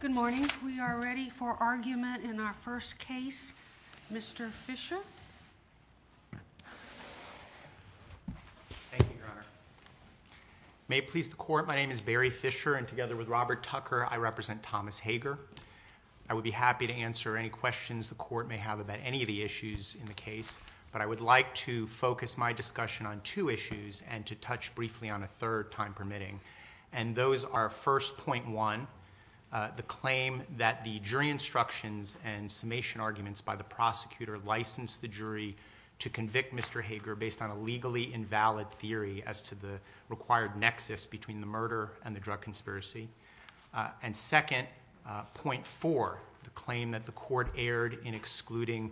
Good morning. We are ready for argument in our first case. Mr. Fischer. Thank you, Your Honor. May it please the Court, my name is Barry Fischer, and together with Robert Tucker, I represent Thomas Hager. I would be happy to answer any questions the Court may have about any of the issues in the case, but I would like to focus my discussion on two issues and to touch briefly on a third time permitting. And those are, first, point one, the claim that the jury instructions and summation arguments by the prosecutor licensed the jury to convict Mr. Hager based on a legally invalid theory as to the required nexus between the murder and the drug conspiracy. And second, point four, the claim that the Court erred in excluding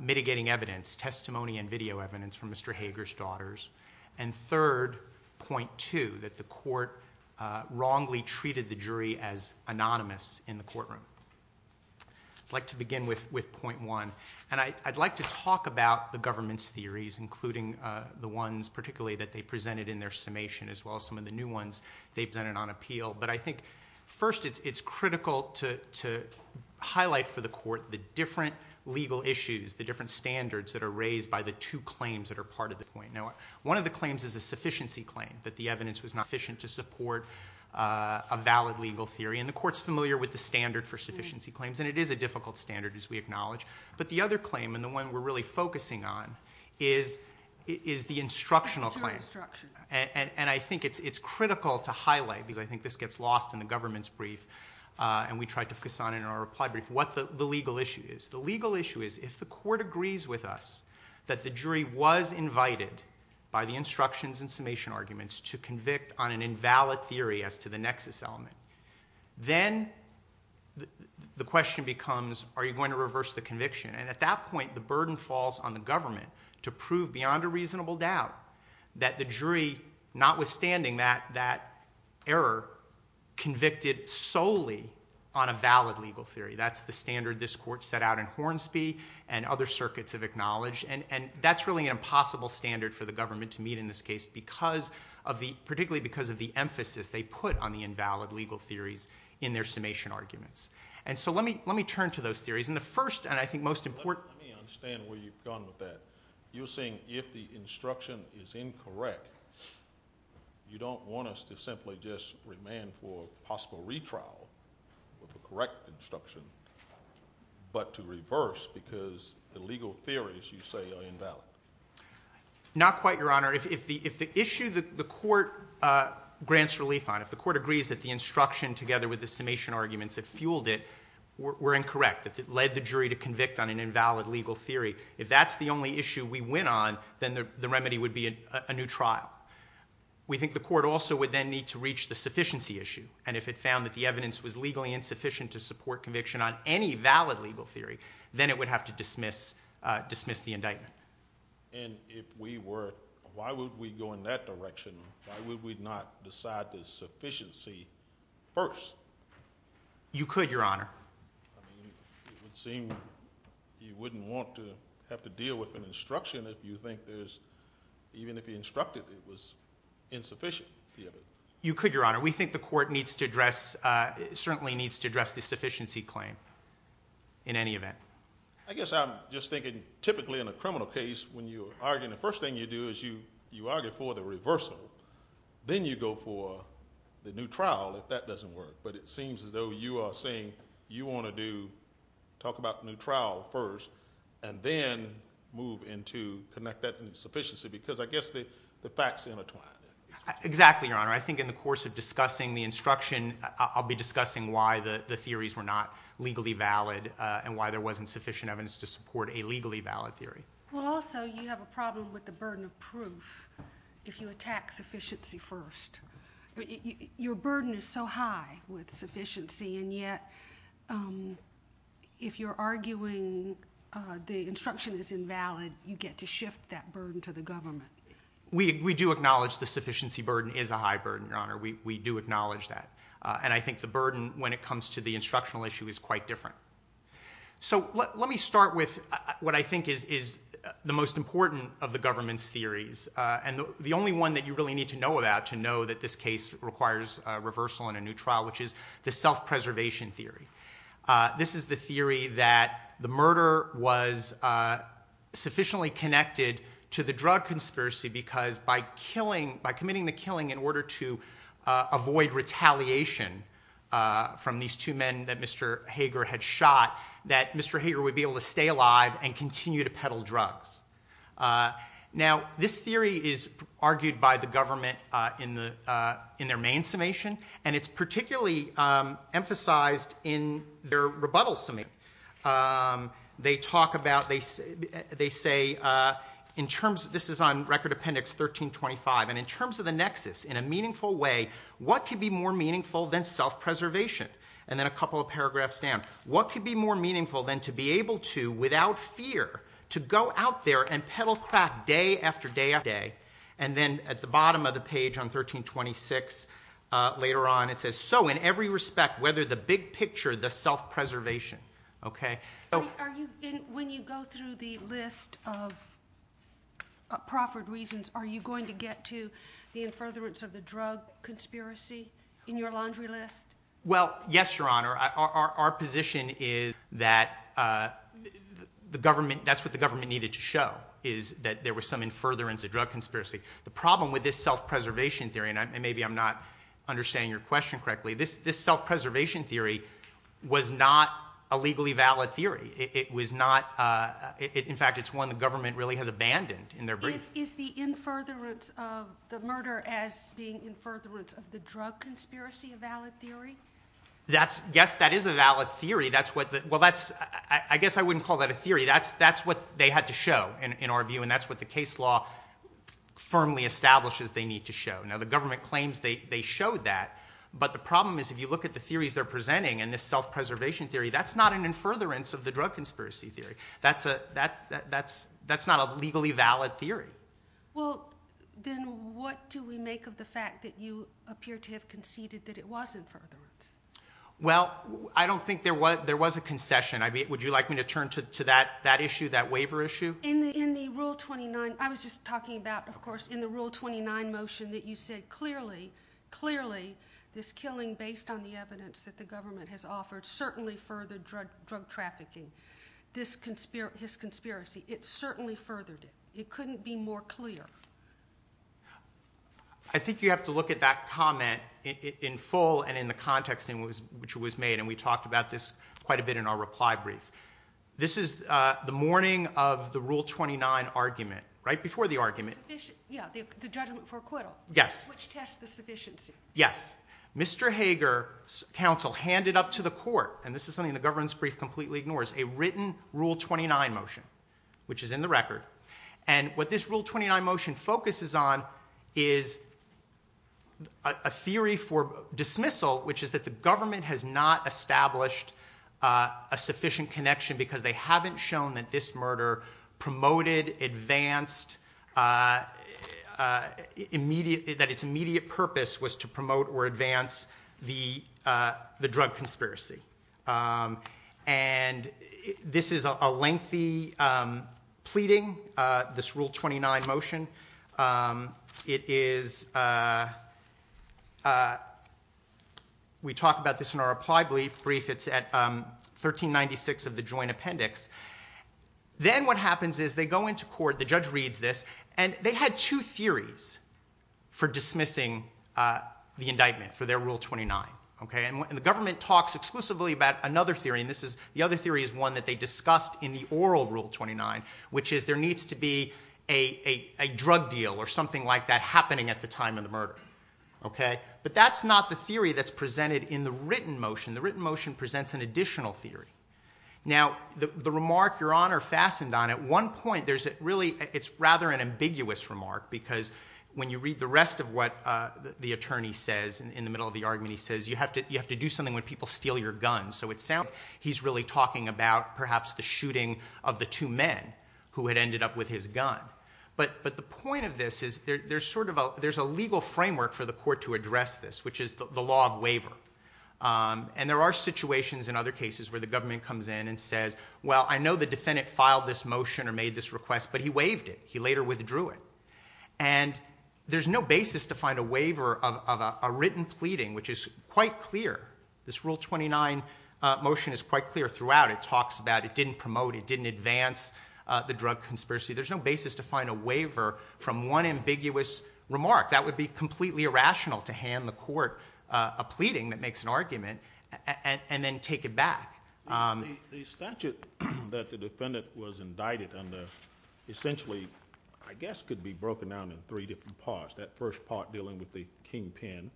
mitigating evidence, testimony and video evidence, from Mr. Hager's daughters. And third, point two, that the Court wrongly treated the jury as anonymous in the courtroom. I would like to begin with point one. And I would like to talk about the government's theories, including the ones particularly that they presented in their summation as well as some of the new ones they presented on appeal. But I think first it is critical to highlight for the Court the different legal issues, the different One of the claims is a sufficiency claim, that the evidence was not sufficient to support a valid legal theory. And the Court is familiar with the standard for sufficiency claims, and it is a difficult standard, as we acknowledge. But the other claim, and the one we're really focusing on, is the instructional claim. And I think it's critical to highlight, because I think this gets lost in the government's brief, and we tried to focus on in our reply brief, what the legal issue is. The legal issue is if the Court agrees with us that the jury was invited by the instructions and summation arguments to convict on an invalid theory as to the nexus element, then the question becomes, are you going to reverse the conviction? And at that point, the burden falls on the government to prove beyond a reasonable doubt that the jury, notwithstanding that error, convicted solely on a valid legal theory. That's the standard this Court set out in Hornsby and other circuits have acknowledged. And that's really an impossible standard for the government to meet in this case, particularly because of the emphasis they put on the invalid legal theories in their summation arguments. And so let me turn to those theories. And the first, and I think most important... Let me understand where you've gone with that. You're saying if the instruction is incorrect, you don't want us to simply just remand for possible retrial with the correct instruction, but to reverse because the legal theories, you say, are invalid. Not quite, Your Honor. If the issue that the Court grants relief on, if the Court agrees that the instruction together with the summation arguments that fueled it were incorrect, that led the jury to convict on an invalid legal theory, if that's the only issue we went on, then the remedy would be a new trial. We think the Court also would then need to reach the sufficiency issue. And if it found that the evidence was legally insufficient to support conviction on any valid legal theory, then it would have to dismiss the indictment. And if we were, why would we go in that direction? Why would we not decide the sufficiency first? You could, Your Honor. I mean, it would seem you wouldn't want to have to deal with an instruction if you think there's, even if you instructed it was insufficient. You could, Your Honor. We think the Court needs to address... in any event. I guess I'm just thinking, typically in a criminal case, when you're arguing, the first thing you do is you argue for the reversal. Then you go for the new trial, if that doesn't work. But it seems as though you are saying you want to do, talk about the new trial first, and then move into, connect that to the sufficiency, because I guess the facts intertwine. Exactly, Your Honor. I think in the course of discussing the instruction, I'll be discussing why the theories were not legally valid, and why there wasn't sufficient evidence to support a legally valid theory. Well, also, you have a problem with the burden of proof if you attack sufficiency first. Your burden is so high with sufficiency, and yet, if you're arguing the instruction is invalid, you get to shift that burden to the government. We do acknowledge the sufficiency burden is a high burden, Your Honor. We do acknowledge that, and I think the burden when it comes to the instructional issue is quite different. Let me start with what I think is the most important of the government's theories, and the only one that you really need to know about to know that this case requires reversal in a new trial, which is the self-preservation theory. This is the theory that the murder was sufficiently connected to the drug conspiracy because by committing the killing in order to avoid retaliation from these two men that Mr. Hager had shot, that Mr. Hager would be able to stay alive and continue to peddle drugs. Now, this theory is argued by the government in their main summation, and it's particularly emphasized in their rebuttal summation. They talk about, they say, this is on Record Appendix 1325, and in terms of the nexus, in a meaningful way, what could be more meaningful than self-preservation? And then a couple of paragraphs down. What could be more meaningful than to be able to, without fear, to go out there and peddle crap day after day after day? And then at the bottom of the page on 1326, later on, it says, so in every respect, whether the big picture, the self-preservation, okay? Are you, when you go through the list of proffered reasons, are you going to get to the in-furtherance of the drug conspiracy in your laundry list? Well, yes, Your Honor. Our position is that the government, that's what the government needed to show, is that there was some in-furtherance of drug conspiracy. The problem with this self-preservation theory, and maybe I'm not understanding your question correctly, this self-preservation theory was not a legally valid theory. It was not, in fact, it's one the government really has abandoned in their brief. Is the in-furtherance of the murder as being in-furtherance of the drug conspiracy a valid theory? That's, yes, that is a valid theory. That's what the, well, that's, I guess I wouldn't call that a theory. That's what they had to show, in our view, and that's what the case law firmly establishes they need to show. Now, the government claims they showed that, but the problem is if you look at the theories they're presenting and this self-preservation theory, that's not an in-furtherance of the drug conspiracy theory. That's not a legally valid theory. Well, then what do we make of the fact that you appear to have conceded that it was in-furtherance? Well, I don't think there was a concession. Would you like me to turn to that issue, that waiver issue? In the Rule 29, I was just talking about, of course, in the Rule 29 motion that you said, clearly, clearly, this killing based on the evidence that the government has offered certainly furthered drug trafficking. This conspiracy, his conspiracy, it certainly furthered it. It couldn't be more clear. I think you have to look at that comment in full and in the context in which it was made, and we talked about this quite a bit in our reply brief. This is the morning of the Rule 29 argument, right before the argument. Yeah, the judgment for acquittal. Yes. Which tests the sufficiency. Yes. Mr. Hager's counsel handed up to the court, and this is something the government's brief completely ignores, a written Rule 29 motion, which is in the record, and what this Rule 29 motion focuses on is a theory for dismissal, which is that the government has not established a sufficient connection because they haven't shown that this murder promoted, advanced, that its immediate purpose was to promote or advance the drug conspiracy. And this is a lengthy pleading, this Rule 29 motion. It is, we talk about this in our reply brief. It's at 1396 of the joint appendix. Then what happens is they go into court, the judge reads this, and they had two theories for dismissing the indictment for their Rule 29, okay? And the government talks exclusively about another theory, and this is, the other theory is one that they discussed in the oral Rule 29, which is there needs to be a drug deal or something like that happening at the time of the murder, okay? But that's not the theory that's presented in the written motion. The written motion presents an additional theory. Now, the remark Your Honor fastened on, at one point, there's really, it's rather an ambiguous remark because when you read the rest of what the attorney says, in the middle of the argument, he says, you have to do something when people steal your guns. So he's really talking about, perhaps, the shooting of the two men who had ended up with his gun. But the point of this is there's a legal framework for the court to address this, which is the law of waiver. And there are situations in other cases where the government comes in and says, well, I know the defendant filed this motion or made this request, but he waived it. He later withdrew it. And there's no basis to find a waiver of a written pleading, which is quite clear. This Rule 29 motion is quite clear throughout. It talks about it didn't promote, it didn't advance the drug conspiracy. There's no basis to find a waiver from one ambiguous remark. That would be completely irrational to hand the court a pleading that makes an argument and then take it back. The statute that the defendant was indicted under essentially, I guess, could be broken down in three different parts. That first part dealing with the kingpin,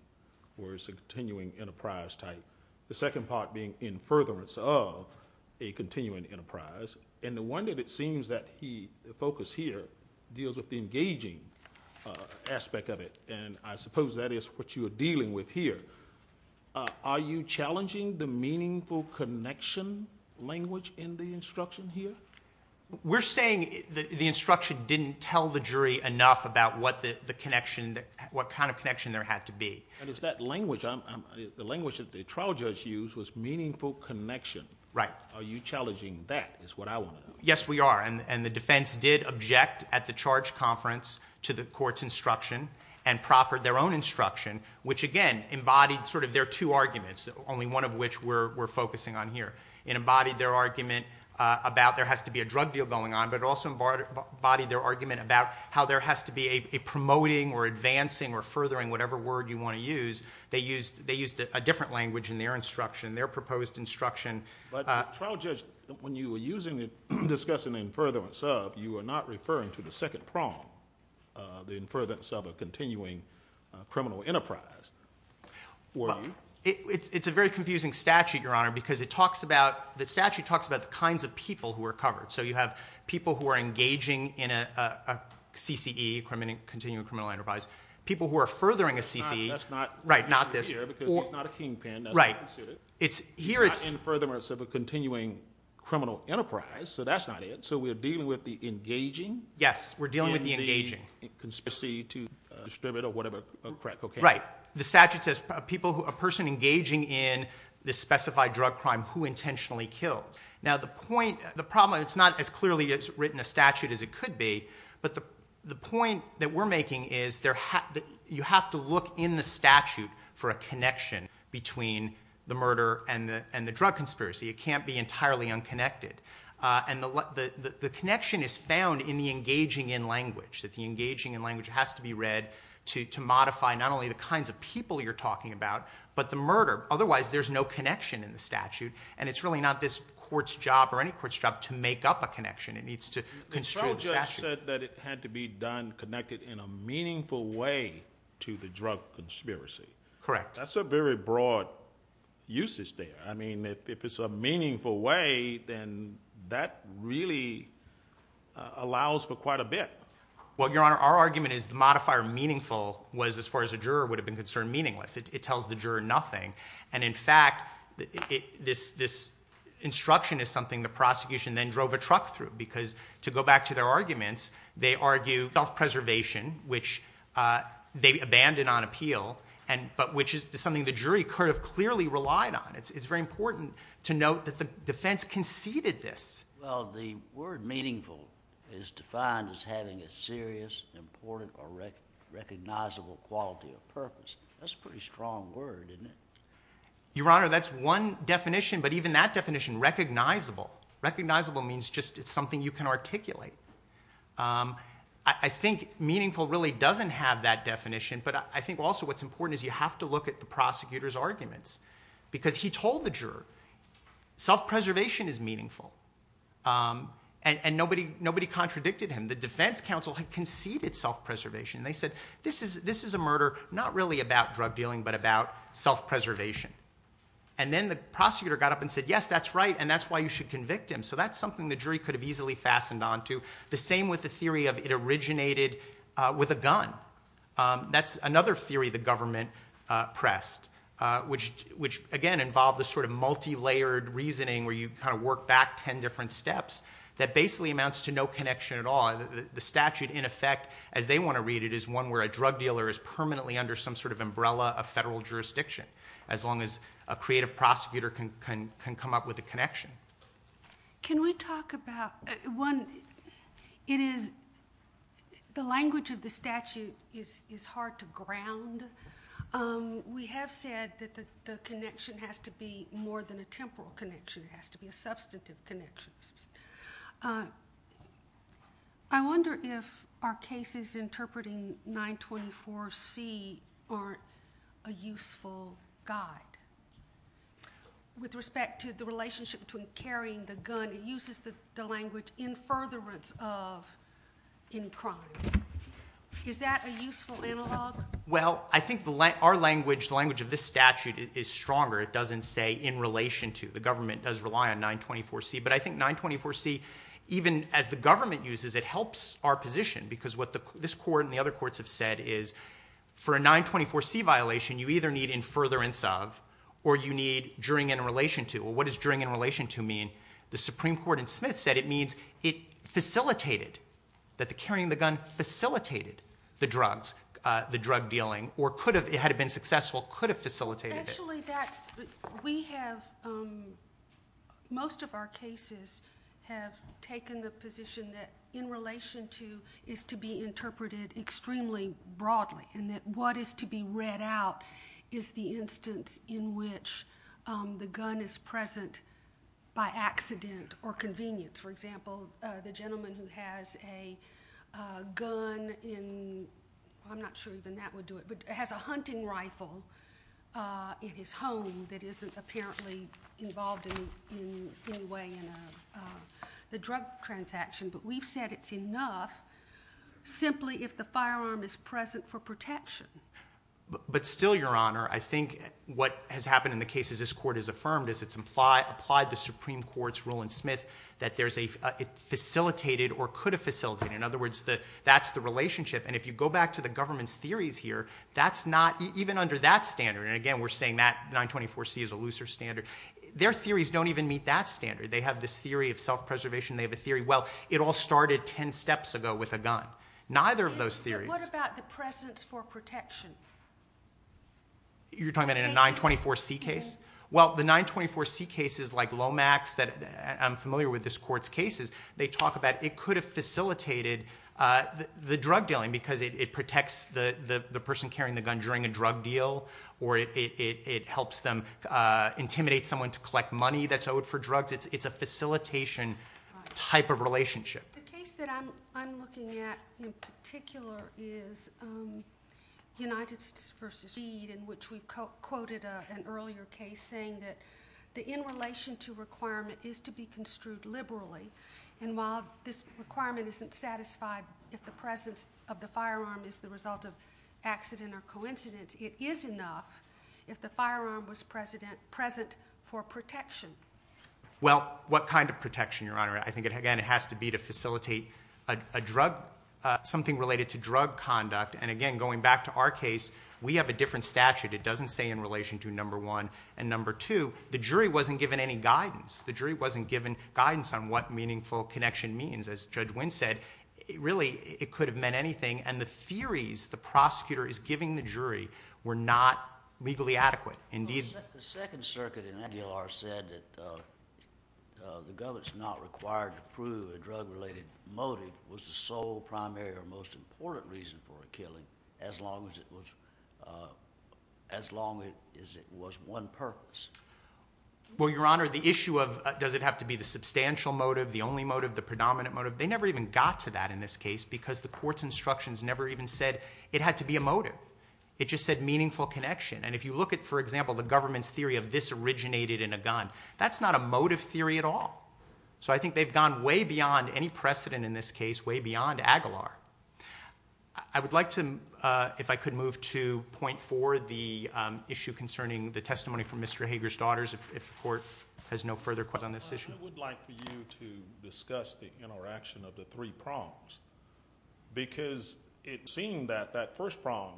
where it's a continuing enterprise type. The second part being in furtherance of a continuing enterprise. And the one that it seems that the focus here deals with the engaging aspect of it, and I suppose that is what you are dealing with here. Are you challenging the meaningful connection language in the instruction here? We're saying the instruction didn't tell the jury enough about what the connection, what kind of connection there had to be. And it's that language. The language that the trial judge used was meaningful connection. Are you challenging that is what I want to know. Yes, we are. And the defense did object at the charge conference to the court's instruction and proffered their own instruction, which, again, embodied sort of their two arguments, only one of which we're focusing on here. It embodied their argument about there has to be a drug deal going on, but it also embodied their argument about how there has to be a promoting or advancing or furthering whatever word you want to use. They used a different language in their instruction, their proposed instruction. But trial judge, when you were using it, discussing the in furtherance of, you were not referring to the second prong, the in furtherance of a continuing criminal enterprise. It's a very confusing statute, Your Honor, because it talks about, the statute talks about the kinds of people who are covered. So you have people who are engaging in a CCE, continuing criminal enterprise, people who are furthering a CCE. That's not here because it's not a kingpin. Right. It's not in furtherance of a continuing criminal enterprise, so that's not it. So we're dealing with the engaging. Yes, we're dealing with the engaging. And the conspiracy to distribute or whatever crack cocaine. Right. The statute says a person engaging in this specified drug crime who intentionally kills. Now, the problem, it's not as clearly written a statute as it could be, but the point that we're making is you have to look in the statute for a connection between the murder and the drug conspiracy. It can't be entirely unconnected. And the connection is found in the engaging in language, that the engaging in language has to be read to modify not only the kinds of people you're talking about, but the murder. Otherwise, there's no connection in the statute, and it's really not this court's job or any court's job to make up a connection. It needs to construe the statute. The trial just said that it had to be done connected in a meaningful way to the drug conspiracy. Correct. That's a very broad usage there. I mean, if it's a meaningful way, then that really allows for quite a bit. Well, Your Honor, our argument is the modifier meaningful was, as far as a juror would have been concerned, meaningless. It tells the juror nothing. And, in fact, this instruction is something the prosecution then drove a truck through because, to go back to their arguments, they argue self-preservation, which they abandoned on appeal, but which is something the jury could have clearly relied on. It's very important to note that the defense conceded this. Well, the word meaningful is defined as having a serious, important, or recognizable quality or purpose. That's a pretty strong word, isn't it? Your Honor, that's one definition, but even that definition, recognizable, recognizable means just it's something you can articulate. I think meaningful really doesn't have that definition, but I think also what's important is you have to look at the prosecutor's arguments because he told the juror self-preservation is meaningful, and nobody contradicted him. The defense counsel had conceded self-preservation. They said this is a murder not really about drug dealing but about self-preservation. And then the prosecutor got up and said, yes, that's right, and that's why you should convict him. So that's something the jury could have easily fastened on to. That's another theory the government pressed, which, again, involved this sort of multilayered reasoning where you kind of work back ten different steps that basically amounts to no connection at all. The statute, in effect, as they want to read it, is one where a drug dealer is permanently under some sort of umbrella of federal jurisdiction as long as a creative prosecutor can come up with a connection. Can we talk about, one, it is the language of the statute is hard to ground. We have said that the connection has to be more than a temporal connection. It has to be a substantive connection. I wonder if our cases interpreting 924C aren't a useful guide with respect to the relationship between carrying the gun. It uses the language in furtherance of any crime. Is that a useful analog? Well, I think our language, the language of this statute is stronger. It doesn't say in relation to. The government does rely on 924C. But I think 924C, even as the government uses, it helps our position because what this court and the other courts have said is for a 924C violation, you either need in furtherance of or you need during and in relation to. What does during and in relation to mean? The Supreme Court in Smith said it means it facilitated, that the carrying of the gun facilitated the drug dealing or could have, had it been successful, could have facilitated it. Actually, that's, we have, most of our cases have taken the position that in relation to is to be interpreted extremely broadly and that what is to be read out is the instance in which the gun is present by accident or convenience. For example, the gentleman who has a gun in, I'm not sure even that would do it, but has a hunting rifle in his home that isn't apparently involved in any way in the drug transaction. But we've said it's enough simply if the firearm is present for protection. But still, Your Honor, I think what has happened in the cases this court has affirmed is it's applied the Supreme Court's rule in Smith that there's a facilitated or could have facilitated. In other words, that's the relationship. And if you go back to the government's theories here, that's not, even under that standard, and again we're saying that 924C is a looser standard, their theories don't even meet that standard. They have this theory of self-preservation. They have a theory, well, it all started 10 steps ago with a gun. Neither of those theories. What about the presence for protection? You're talking about in a 924C case? Well, the 924C cases like Lomax that I'm familiar with this court's cases, they talk about it could have facilitated the drug dealing because it protects the person carrying the gun during a drug deal because it's a facilitation type of relationship. The case that I'm looking at in particular is United v. Reed in which we quoted an earlier case saying that the in relation to requirement is to be construed liberally. And while this requirement isn't satisfied if the presence of the firearm is the result of accident or coincidence, it is enough if the firearm was present for protection. Well, what kind of protection, Your Honor? I think, again, it has to be to facilitate something related to drug conduct. And again, going back to our case, we have a different statute. It doesn't say in relation to number one. And number two, the jury wasn't given any guidance. The jury wasn't given guidance on what meaningful connection means. As Judge Wynn said, really it could have meant anything. And the theories the prosecutor is giving the jury were not legally adequate. Indeed. The Second Circuit in Aguilar said that the government's not required to prove a drug-related motive was the sole primary or most important reason for a killing as long as it was one purpose. Well, Your Honor, the issue of does it have to be the substantial motive, the only motive, the predominant motive, they never even got to that in this case because the court's instructions never even said it had to be a motive. It just said meaningful connection. And if you look at, for example, the government's theory of this originated in a gun, that's not a motive theory at all. So I think they've gone way beyond any precedent in this case, way beyond Aguilar. I would like to, if I could, move to point four, the issue concerning the testimony from Mr. Hager's daughters if the court has no further questions on this issue. I would like for you to discuss the interaction of the three prongs because it seems that that first prong,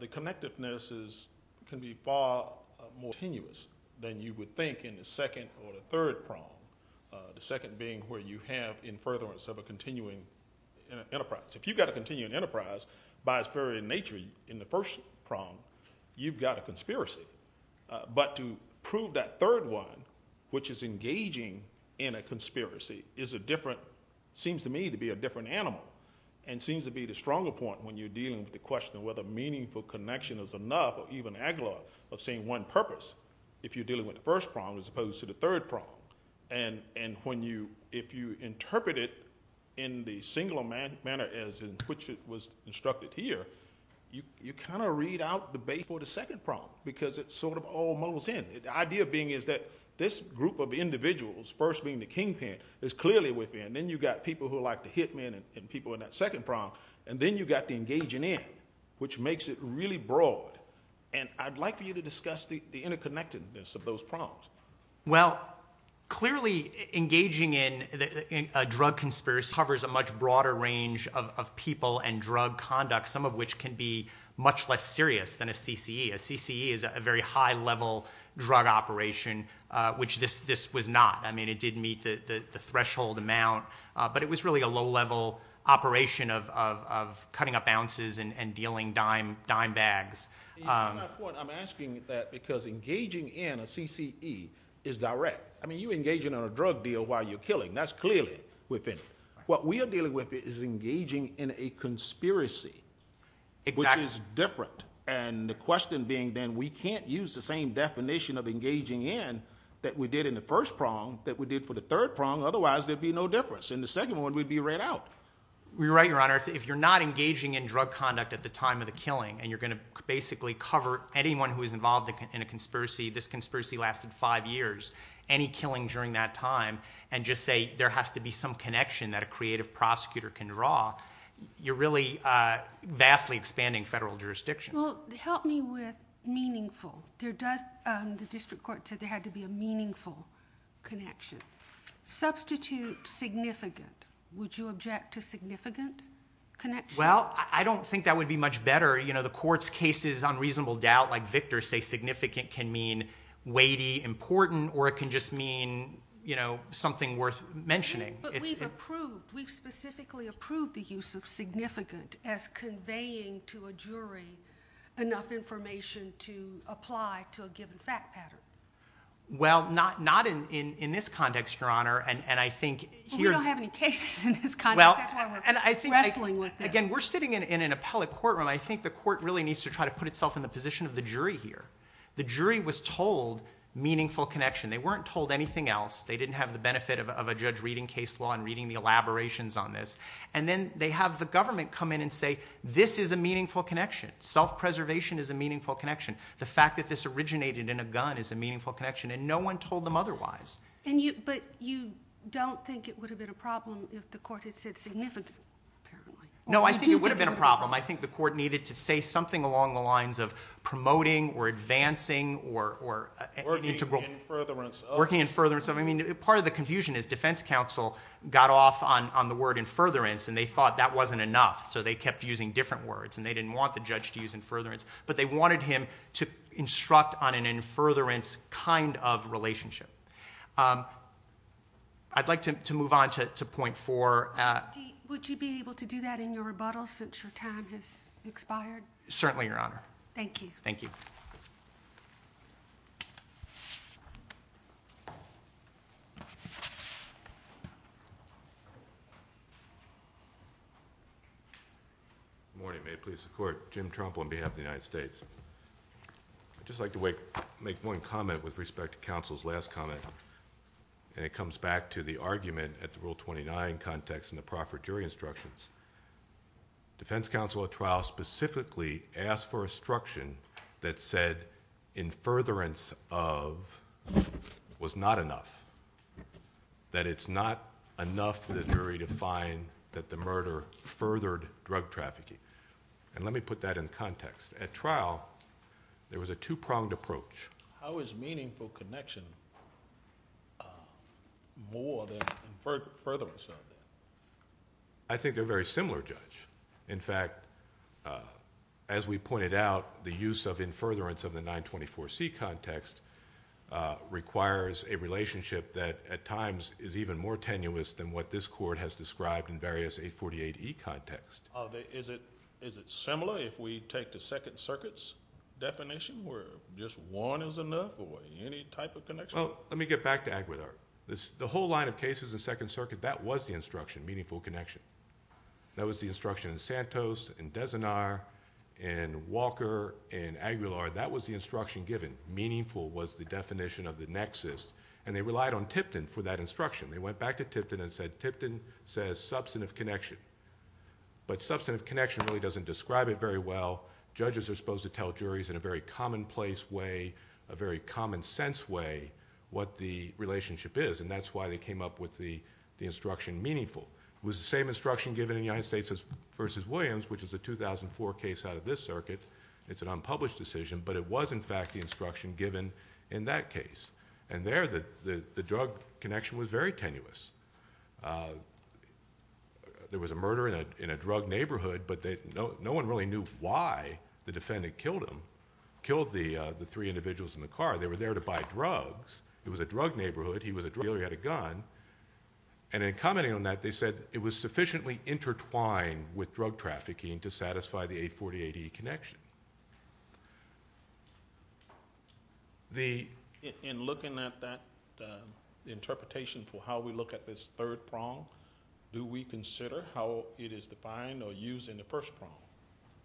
the connectiveness can be far more tenuous than you would think in the second or the third prong, the second being where you have in furtherance of a continuing enterprise. If you've got a continuing enterprise, by its very nature in the first prong, you've got a conspiracy. But to prove that third one, which is engaging in a conspiracy, is a different, seems to me to be a different animal and seems to be the stronger point when you're dealing with the question of whether meaningful connection is enough or even Aguilar of seeing one purpose if you're dealing with the first prong as opposed to the third prong. And if you interpret it in the singular manner as in which it was instructed here, you kind of read out the bait for the second prong because it's sort of almost in. The idea being is that this group of individuals, first being the kingpin, is clearly within. Then you've got people who are like the hitmen and people in that second prong. And then you've got the engaging in, which makes it really broad. And I'd like for you to discuss the interconnectedness of those prongs. Well, clearly engaging in a drug conspiracy covers a much broader range of people and drug conduct, some of which can be much less serious than a CCE. A CCE is a very high-level drug operation, which this was not. I mean, it did meet the threshold amount, but it was really a low-level operation of cutting up ounces and dealing dime bags. To that point, I'm asking that because engaging in a CCE is direct. I mean, you're engaging in a drug deal while you're killing. That's clearly within. What we are dealing with is engaging in a conspiracy, which is different. And the question being then we can't use the same definition of engaging in that we did in the first prong that we did for the third prong. Otherwise, there'd be no difference. In the second one, we'd be right out. You're right, Your Honor. If you're not engaging in drug conduct at the time of the killing and you're going to basically cover anyone who is involved in a conspiracy, this conspiracy lasted five years, any killing during that time, and just say there has to be some connection that a creative prosecutor can draw, you're really vastly expanding federal jurisdiction. Well, help me with meaningful. The district court said there had to be a meaningful connection. Substitute significant. Would you object to significant connection? Well, I don't think that would be much better. The court's cases on reasonable doubt, like Victor's, say significant can mean weighty, important, or it can just mean something worth mentioning. But we've approved, we've specifically approved the use of significant as conveying to a jury enough information to apply to a given fact pattern. Well, not in this context, Your Honor. We don't have any cases in this context. That's why we're wrestling with this. Again, we're sitting in an appellate courtroom. I think the court really needs to try to put itself in the position of the jury here. The jury was told meaningful connection. They weren't told anything else. They didn't have the benefit of a judge reading case law and reading the elaborations on this. And then they have the government come in and say this is a meaningful connection. Self-preservation is a meaningful connection. The fact that this originated in a gun is a meaningful connection, and no one told them otherwise. But you don't think it would have been a problem if the court had said significant apparently? No, I think it would have been a problem. I think the court needed to say something along the lines of promoting or advancing or integral. Working in furtherance. Working in furtherance. Part of the confusion is defense counsel got off on the word in furtherance, and they thought that wasn't enough, so they kept using different words, and they didn't want the judge to use in furtherance. But they wanted him to instruct on an in furtherance kind of relationship. I'd like to move on to point four. Would you be able to do that in your rebuttal since your time has expired? Certainly, Your Honor. Thank you. Thank you. Good morning. May it please the Court. Jim Trump on behalf of the United States. I'd just like to make one comment with respect to counsel's last comment, and it comes back to the argument at the Rule 29 context in the proffer jury instructions. Defense counsel at trial specifically asked for instruction that said in furtherance of was not enough. That it's not enough for the jury to find that the murder furthered drug trafficking. Let me put that in context. At trial, there was a two-pronged approach. How is meaningful connection more than furtherance of that? I think they're very similar, Judge. In fact, as we pointed out, the use of in furtherance of the 924C context requires a relationship that at times is even more tenuous than what this Court has described in various 848E contexts. Is it similar if we take the Second Circuit's definition where just one is enough or any type of connection? Well, let me get back to Aguilar. The whole line of cases in Second Circuit, that was the instruction, meaningful connection. That was the instruction in Santos, in Dezinar, in Walker, in Aguilar. That was the instruction given. Meaningful was the definition of the nexus, and they relied on Tipton for that instruction. They went back to Tipton and said, Tipton says substantive connection, but substantive connection really doesn't describe it very well. Judges are supposed to tell juries in a very commonplace way, a very common sense way, what the relationship is, and that's why they came up with the instruction meaningful. It was the same instruction given in the United States v. Williams, which is a 2004 case out of this circuit. It's an unpublished decision, but it was, in fact, the instruction given in that case. And there, the drug connection was very tenuous. There was a murder in a drug neighborhood, but no one really knew why the defendant killed him, killed the three individuals in the car. They were there to buy drugs. It was a drug neighborhood. He was a drug dealer. He had a gun. And in commenting on that, they said it was sufficiently intertwined with drug trafficking to satisfy the 840 AD connection. In looking at that interpretation for how we look at this third prong, do we consider how it is defined or used in the first prong?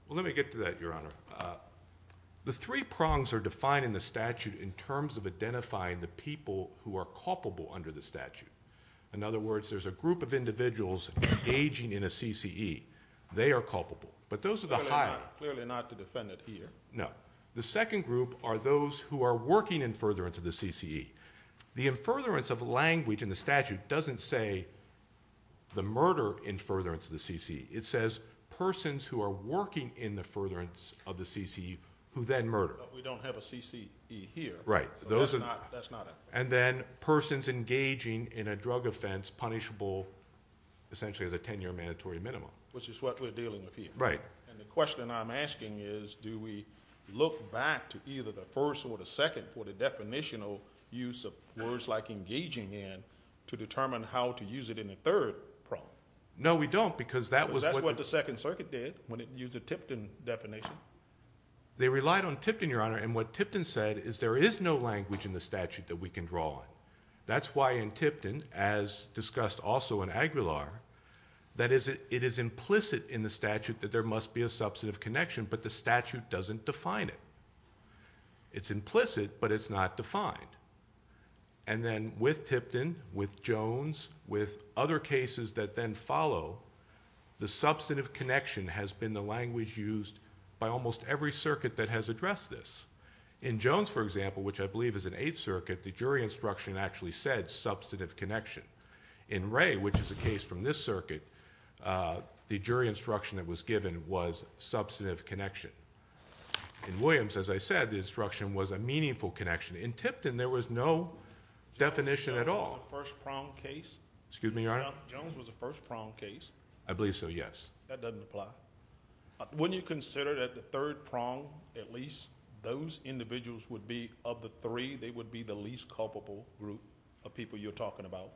Well, let me get to that, Your Honor. The three prongs are defined in the statute in terms of identifying the people who are culpable under the statute. In other words, there's a group of individuals engaging in a CCE. They are culpable. But those are the higher. Clearly not the defendant here. No. The second group are those who are working in furtherance of the CCE. The furtherance of language in the statute doesn't say the murder in furtherance of the CCE. It says persons who are working in the furtherance of the CCE who then murder. But we don't have a CCE here. Right. That's not it. And then persons engaging in a drug offense punishable, essentially, as a 10-year mandatory minimum. Which is what we're dealing with here. Right. And the question I'm asking is, do we look back to either the first or the second for the definitional use of words like engaging in to determine how to use it in a third prong? No, we don't. Because that was what the Second Circuit did when it used the Tipton definition. They relied on Tipton, Your Honor. And what Tipton said is there is no language in the statute that we can draw on. That's why in Tipton, as discussed also in Aguilar, that it is implicit in the statute that there must be a substantive connection, but the statute doesn't define it. It's implicit, but it's not defined. And then with Tipton, with Jones, with other cases that then follow, the substantive connection has been the language used by almost every circuit that has addressed this. In Jones, for example, which I believe is an Eighth Circuit, the jury instruction actually said substantive connection. In Wray, which is a case from this circuit, the jury instruction that was given was substantive connection. In Williams, as I said, the instruction was a meaningful connection. In Tipton, there was no definition at all. Jones was a first prong case. Excuse me, Your Honor? Jones was a first prong case. I believe so, yes. That doesn't apply. Wouldn't you consider that the third prong, at least, those individuals would be of the three, they would be the least culpable group of people you're talking about?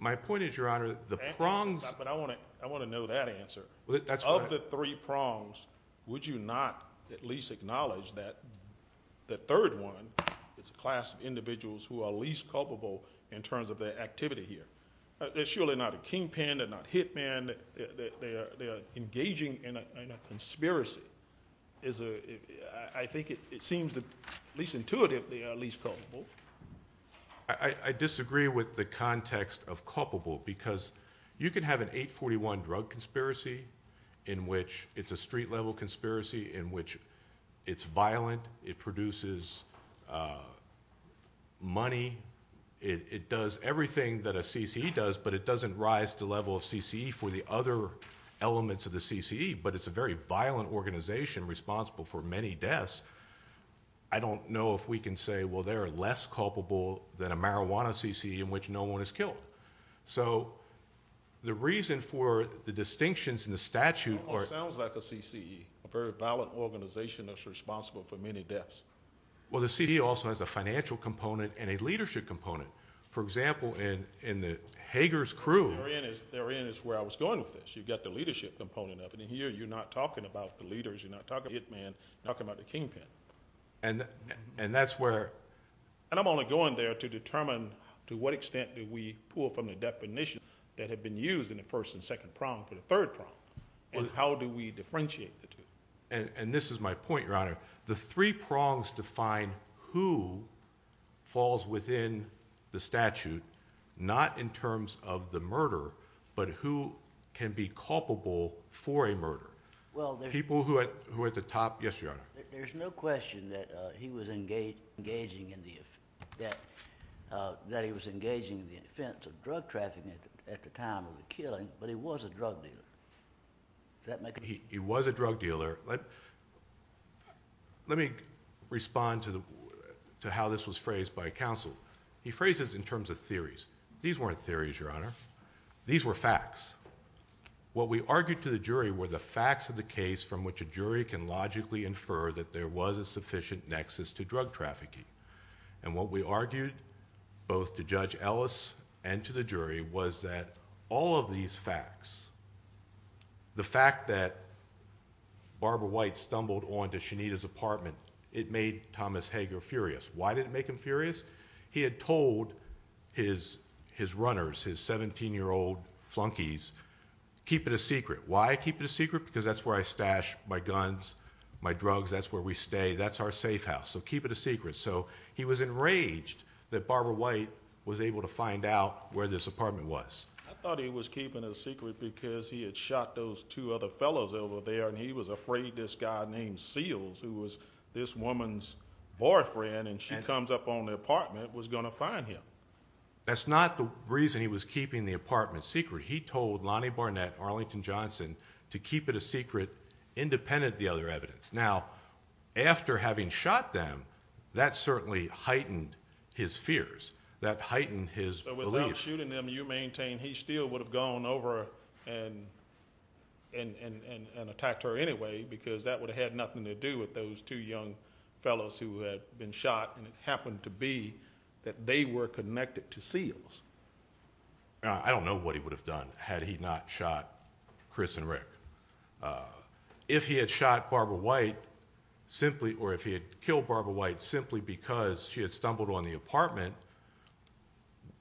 My point is, Your Honor, the prongs. I want to know that answer. Of the three prongs, would you not at least acknowledge that the third one, it's a class of individuals who are least culpable in terms of their activity here? They're surely not a kingpin. They're not hit men. They are engaging in a conspiracy. I think it seems at least intuitively they are least culpable. I disagree with the context of culpable because you can have an 841 drug conspiracy in which it's a street-level conspiracy, in which it's violent, it produces money, it does everything that a CCE does, but it doesn't rise to the level of CCE for the other elements of the CCE, but it's a very violent organization responsible for many deaths. I don't know if we can say, well, they're less culpable than a marijuana CCE in which no one is killed. So the reason for the distinctions in the statute are... It almost sounds like a CCE, a very violent organization that's responsible for many deaths. Well, the CCE also has a financial component and a leadership component. For example, in the Hager's crew... Therein is where I was going with this. You've got the leadership component of it, and here you're not talking about the leaders, you're not talking about the hitman, you're talking about the kingpin. And that's where... And I'm only going there to determine to what extent do we pull from the definition that had been used in the first and second prong for the third prong, and how do we differentiate the two. And this is my point, Your Honor. The three prongs define who falls within the statute, not in terms of the murderer, but who can be culpable for a murder. People who at the top... Yes, Your Honor. There's no question that he was engaging in the offense... That he was engaging in the offense of drug trafficking at the time of the killing, but he was a drug dealer. Does that make a difference? He was a drug dealer. Let me respond to how this was phrased by counsel. He phrases it in terms of theories. These weren't theories, Your Honor. These were facts. What we argued to the jury were the facts of the case from which a jury can logically infer that there was a sufficient nexus to drug trafficking. And what we argued, both to Judge Ellis and to the jury, was that all of these facts... The fact that Barbara White stumbled onto Shanita's apartment, it made Thomas Hager furious. Why did it make him furious? He had told his runners, his 17-year-old flunkies, keep it a secret. Why keep it a secret? Because that's where I stash my guns, my drugs, that's where we stay, that's our safe house, so keep it a secret. So he was enraged that Barbara White was able to find out where this apartment was. I thought he was keeping it a secret because he had shot those two other fellows over there and he was afraid this guy named Seals, who was this woman's boyfriend, and she comes up on the apartment, was going to find him. That's not the reason he was keeping the apartment secret. He told Lonnie Barnett, Arlington Johnson, to keep it a secret independent of the other evidence. Now, after having shot them, that certainly heightened his fears. That heightened his belief. So without shooting them, you maintain he still would have gone over and attacked her anyway because that would have had nothing to do with those two young fellows who had been shot, and it happened to be that they were connected to Seals. I don't know what he would have done had he not shot Chris and Rick. If he had shot Barbara White, or if he had killed Barbara White simply because she had stumbled on the apartment,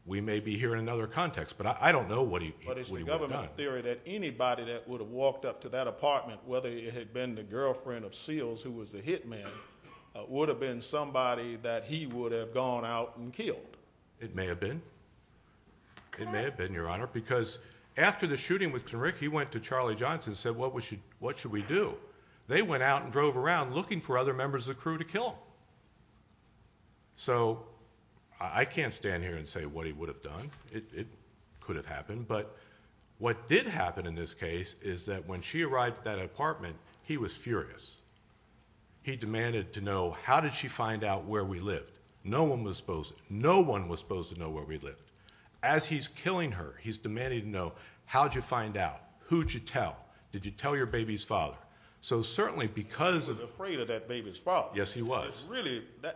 we may be here in another context, but I don't know what he would have done. But it's the government theory that anybody that would have walked up to that apartment, whether it had been the girlfriend of Seals, who was the hitman, would have been somebody that he would have gone out and killed. It may have been. It may have been, Your Honor, because after the shooting with Rick, he went to Charlie Johnson and said, what should we do? They went out and drove around looking for other members of the crew to kill them. So I can't stand here and say what he would have done. It could have happened. But what did happen in this case is that when she arrived at that apartment, he was furious. He demanded to know, how did she find out where we lived? No one was supposed to know where we lived. As he's killing her, he's demanding to know, how'd you find out? Who'd you tell? Did you tell your baby's father? So certainly because of... He was afraid of that baby's father. Yes, he was.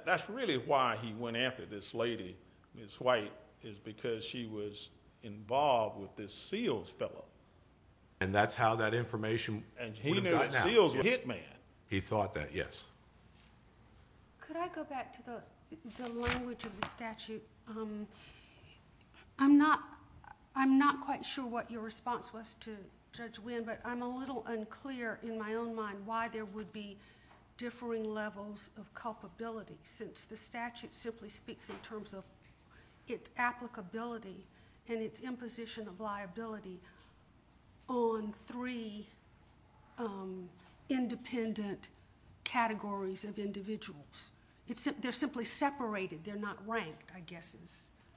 That's really why he went after this lady, Ms. White, is because she was involved with this Seals fellow. And that's how that information would have gotten out. And he knew that Seals was a hit man. He thought that, yes. Could I go back to the language of the statute? I'm not quite sure what your response was to Judge Wynn, but I'm a little unclear in my own mind why there would be differing levels of culpability since the statute simply speaks in terms of its applicability and its imposition of liability on three independent categories of individuals. They're simply separated. They're not ranked, I guess.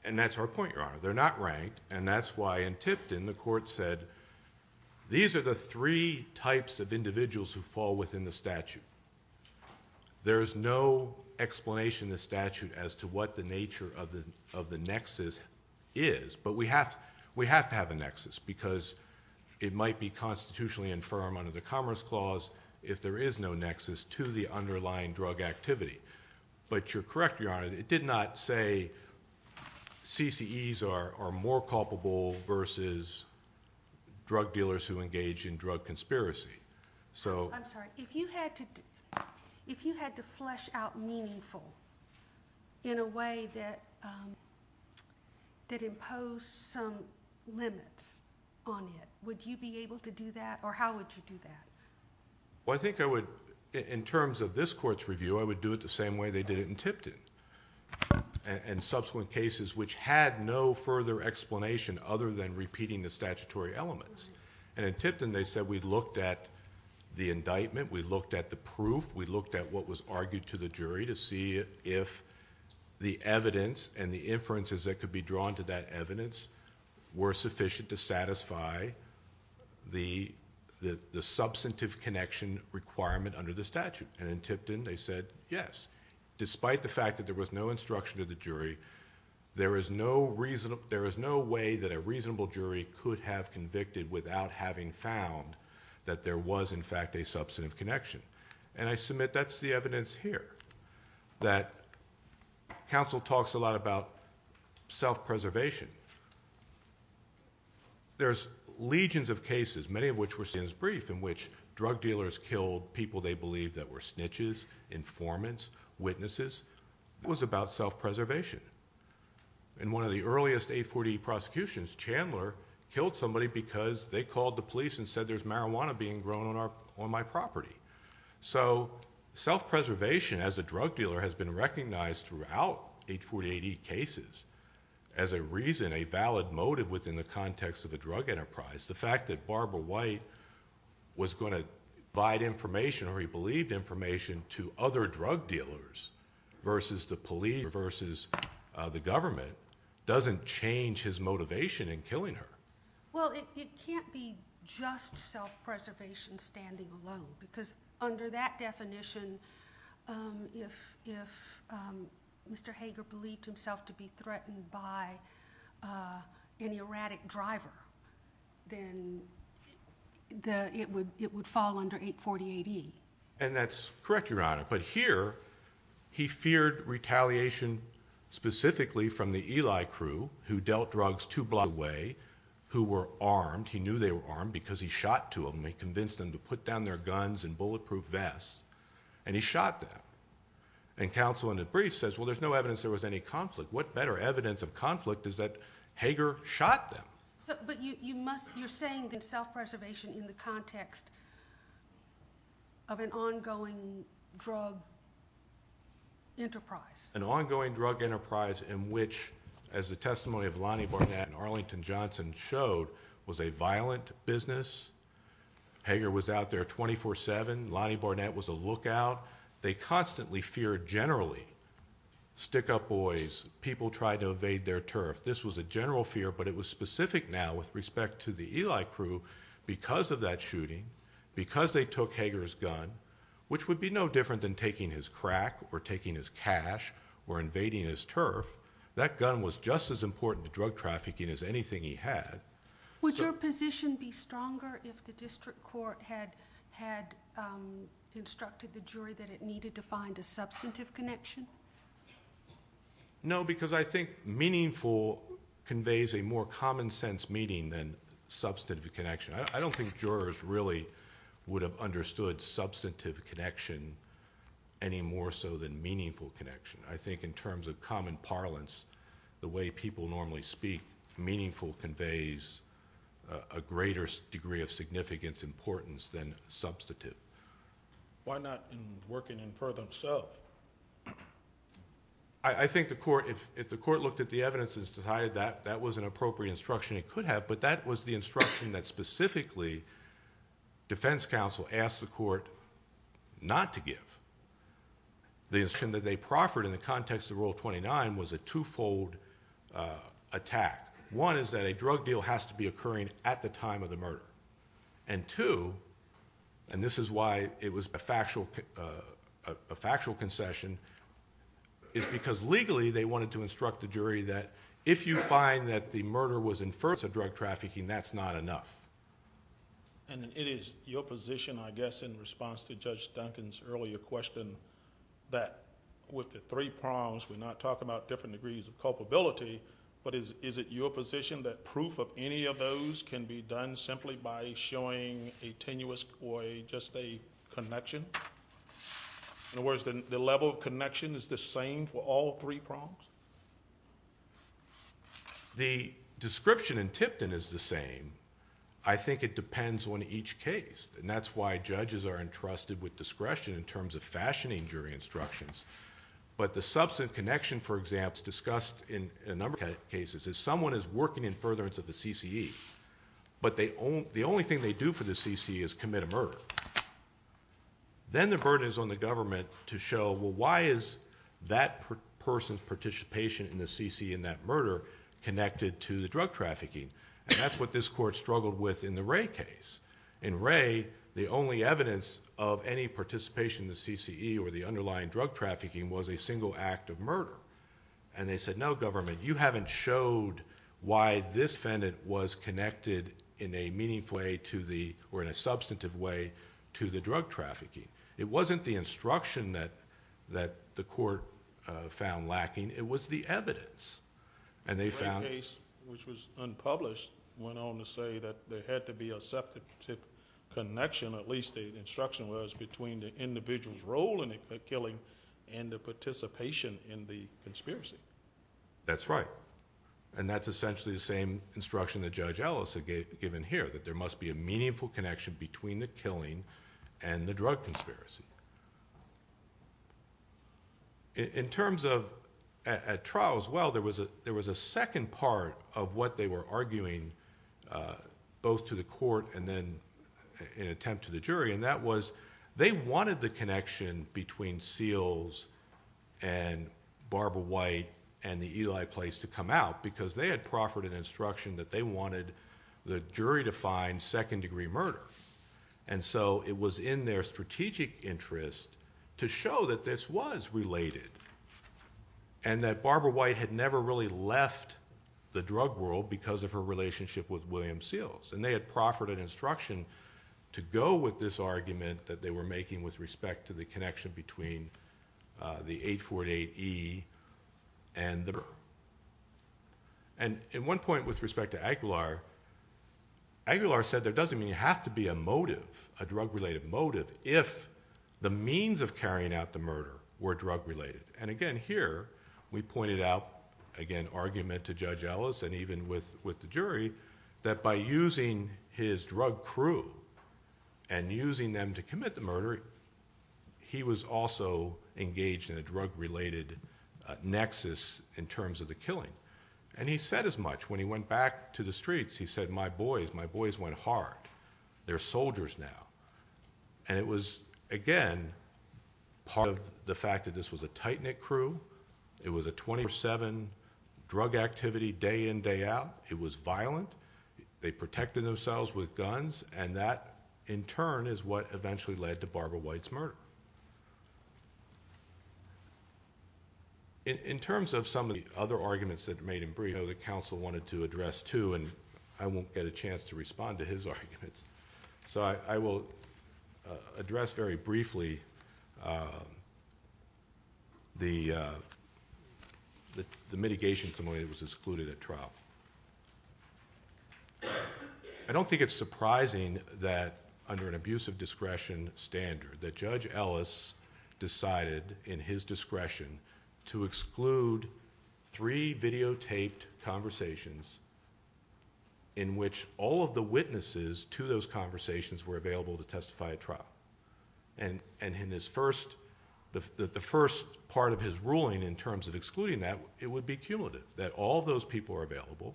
And that's our point, Your Honor. They're not ranked, and that's why in Tipton, the court said, these are the three types of individuals who fall within the statute. There is no explanation in the statute as to what the nature of the nexus is. But we have to have a nexus because it might be constitutionally infirm under the Commerce Clause if there is no nexus to the underlying drug activity. But you're correct, Your Honor, it did not say CCEs are more culpable versus drug dealers who engage in drug conspiracy. I'm sorry, if you had to flesh out meaningful in a way that imposed some limits on it, would you be able to do that, or how would you do that? Well, I think I would, in terms of this court's review, I would do it the same way they did it in Tipton and subsequent cases which had no further explanation other than repeating the statutory elements. And in Tipton, they said, we looked at the indictment, we looked at the proof, we looked at what was argued to the jury to see if the evidence and the inferences that could be drawn to that evidence were sufficient to satisfy the substantive connection requirement under the statute. And in Tipton, they said, yes. Despite the fact that there was no instruction to the jury, there is no way that a reasonable jury could have convicted without having found that there was, in fact, a substantive connection. And I submit that's the evidence here, that counsel talks a lot about self-preservation. There's legions of cases, many of which were seen as brief, in which drug dealers killed people they believed that were snitches, informants, witnesses. It was about self-preservation. In one of the earliest 840E prosecutions, Chandler killed somebody because they called the police and said there's marijuana being grown on my property. So self-preservation as a drug dealer has been recognized throughout 840AD cases as a reason, a valid motive within the context of a drug enterprise. The fact that Barbara White was going to provide information or he believed information to other drug dealers versus the police, versus the government, doesn't change his motivation in killing her. Well, it can't be just self-preservation standing alone because under that definition, if Mr. Hager believed himself to be threatened by any erratic driver, then it would fall under 840AD. And that's correct, Your Honor. But here, he feared retaliation specifically from the Eli crew, who dealt drugs two blocks away, who were armed. He knew they were armed because he shot two of them. He convinced them to put down their guns and bulletproof vests. And he shot them. And counsel in a brief says, well, there's no evidence there was any conflict. What better evidence of conflict is that Hager shot them? But you're saying that self-preservation in the context of an ongoing drug enterprise. An ongoing drug enterprise in which, as the testimony of Lonnie Barnett and Arlington Johnson showed, was a violent business. Hager was out there 24-7. Lonnie Barnett was a lookout. They constantly feared generally stick-up boys, people trying to evade their turf. This was a general fear, but it was specific now with respect to the Eli crew because of that shooting, because they took Hager's gun, which would be no different than taking his crack or taking his cash or invading his turf. That gun was just as important to drug trafficking as anything he had. Would your position be stronger if the district court had instructed the jury that it needed to find a substantive connection? No, because I think meaningful conveys a more common-sense meaning than substantive connection. I don't think jurors really would have understood substantive connection any more so than meaningful connection. I think in terms of common parlance, the way people normally speak, meaningful conveys a greater degree of significance, importance than substantive. Why not in working in Perth himself? I think if the court looked at the evidence and decided that that was an appropriate instruction it could have, but that was the instruction that specifically defense counsel asked the court not to give. The instruction that they proffered in the context of Rule 29 was a two-fold attack. One is that a drug deal has to be occurring at the time of the murder. And two, and this is why it was a factual concession, is because legally they wanted to instruct the jury that if you find that the murder was in Perth of drug trafficking, that's not enough. And it is your position, I guess, in response to Judge Duncan's earlier question, that with the three prongs we're not talking about different degrees of culpability, but is it your position that proof of any of those can be done simply by showing a tenuous or just a connection? In other words, the level of connection is the same for all three prongs? The description in Tipton is the same. I think it depends on each case, and that's why judges are entrusted with discretion in terms of fashioning jury instructions. But the substantive connection, for example, discussed in a number of cases is someone is working in furtherance of the CCE, but the only thing they do for the CCE is commit a murder. Then the burden is on the government to show, well, why is that person's participation in the CCE and that murder connected to the drug trafficking? And that's what this court struggled with in the Wray case. In Wray, the only evidence of any participation in the CCE or the underlying drug trafficking was a single act of murder. And they said, no, government, you haven't showed why this defendant was connected in a meaningful way to the... or in a substantive way to the drug trafficking. It wasn't the instruction that the court found lacking. It was the evidence, and they found... The Wray case, which was unpublished, went on to say that there had to be a substantive connection, at least the instruction was, between the individual's role in the killing and the participation in the conspiracy. That's right. And that's essentially the same instruction that Judge Ellis had given here, that there must be a meaningful connection between the killing and the drug conspiracy. In terms of... At trial as well, there was a second part of what they were arguing, both to the court and then in attempt to the jury, and that was they wanted the connection between Seals and Barbara White and the Eli place to come out, because they had proffered an instruction that they wanted the jury to find second-degree murder. And so it was in their strategic interest to show that this was related, and that Barbara White had never really left the drug world because of her relationship with William Seals. And they had proffered an instruction to go with this argument that they were making with respect to the connection between the 848E and the murder. And at one point, with respect to Aguilar, Aguilar said there doesn't even have to be a motive, a drug-related motive, if the means of carrying out the murder were drug-related. And again, here, we pointed out, again, argument to Judge Ellis and even with the jury, that by using his drug crew and using them to commit the murder, he was also engaged in a drug-related nexus in terms of the killing. And he said as much. When he went back to the streets, he said, My boys, my boys went hard. They're soldiers now. And it was, again, part of the fact that this was a tight-knit crew. It was a 24-7 drug activity day in, day out. It was violent. They protected themselves with guns, and that, in turn, is what eventually led to Barbara White's murder. In terms of some of the other arguments that were made in Brito that counsel wanted to address too, and I won't get a chance to respond to his arguments, so I will address very briefly the mitigation committee that was excluded at trial. I don't think it's surprising that, under an abuse of discretion standard, that Judge Ellis decided, in his discretion, to exclude three videotaped conversations in which all of the witnesses to those conversations were available to testify at trial. And in the first part of his ruling, in terms of excluding that, it would be cumulative, that all of those people are available.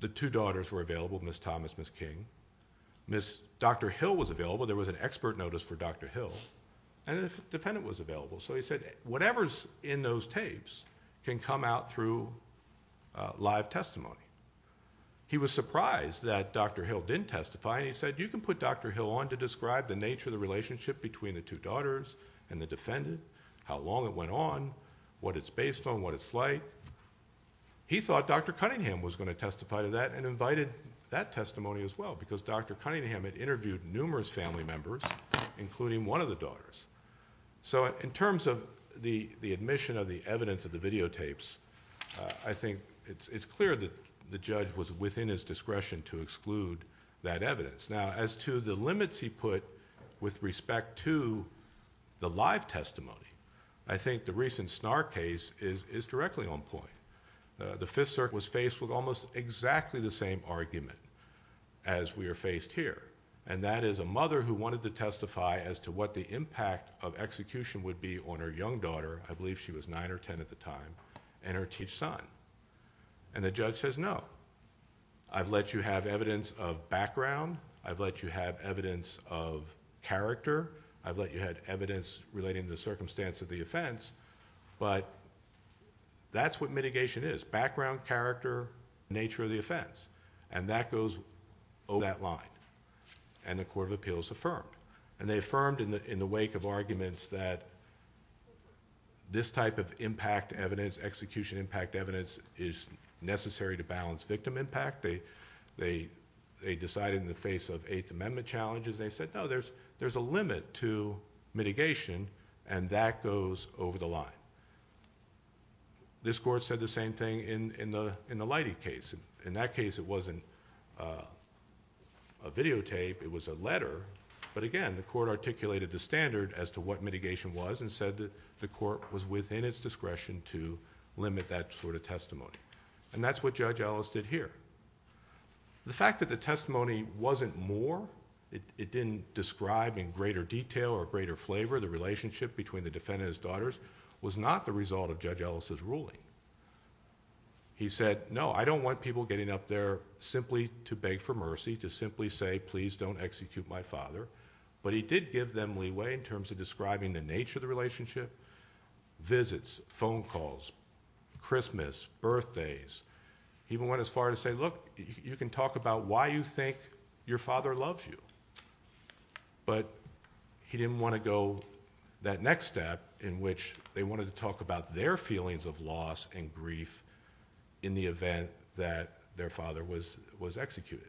The two daughters were available, Ms. Thomas, Ms. King. Dr. Hill was available. There was an expert notice for Dr. Hill. And the defendant was available. So he said, whatever's in those tapes can come out through live testimony. He was surprised that Dr. Hill didn't testify, and he said, you can put Dr. Hill on to describe the nature of the relationship between the two daughters and the defendant, how long it went on, what it's based on, what it's like. He thought Dr. Cunningham was going to testify to that and invited that testimony as well, because Dr. Cunningham had interviewed numerous family members, including one of the daughters. So in terms of the admission of the evidence of the videotapes, I think it's clear that the judge was within his discretion to exclude that evidence. Now, as to the limits he put with respect to the live testimony, I think the recent Snarr case is directly on point. The Fifth Circuit was faced with almost exactly the same argument as we are faced here, and that is a mother who wanted to testify as to what the impact of execution would be on her young daughter, I believe she was 9 or 10 at the time, and her teach son. And the judge says, no. I've let you have evidence of background. I've let you have evidence of character. I've let you have evidence relating to the circumstance of the offence. But that's what mitigation is, background, character, nature of the offence. And that goes over that line. And the Court of Appeals affirmed. And they affirmed in the wake of arguments that this type of impact evidence, execution impact evidence, is necessary to balance victim impact. They decided in the face of Eighth Amendment challenges, they said, no, there's a limit to mitigation, and that goes over the line. This court said the same thing in the Leidy case. In that case, it wasn't a videotape, it was a letter. But again, the court articulated the standard as to what mitigation was to limit that sort of testimony. And that's what Judge Ellis did here. The fact that the testimony wasn't more, it didn't describe in greater detail or greater flavor the relationship between the defendant and his daughters, was not the result of Judge Ellis's ruling. He said, no, I don't want people getting up there simply to beg for mercy, to simply say, please don't execute my father. But he did give them leeway in terms of describing the nature of the relationship. Visits, phone calls, Christmas, birthdays. He even went as far to say, look, you can talk about why you think your father loves you. But he didn't want to go that next step in which they wanted to talk about their feelings of loss and grief in the event that their father was executed.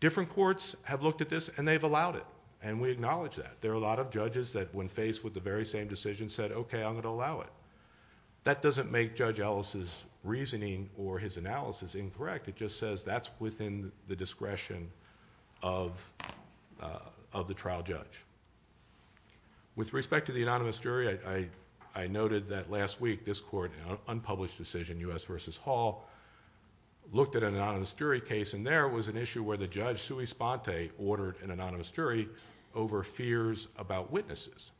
Different courts have looked at this, and they've allowed it, and we acknowledge that. There are a lot of judges that, when faced with the very same decision, said, okay, I'm going to allow it. That doesn't make Judge Ellis's reasoning or his analysis incorrect. It just says that's within the discretion of the trial judge. With respect to the anonymous jury, I noted that last week this court, an unpublished decision, U.S. v. Hall, looked at an anonymous jury case, and there was an issue where the judge, Sui Sponte, they ordered an anonymous jury over fears about witnesses.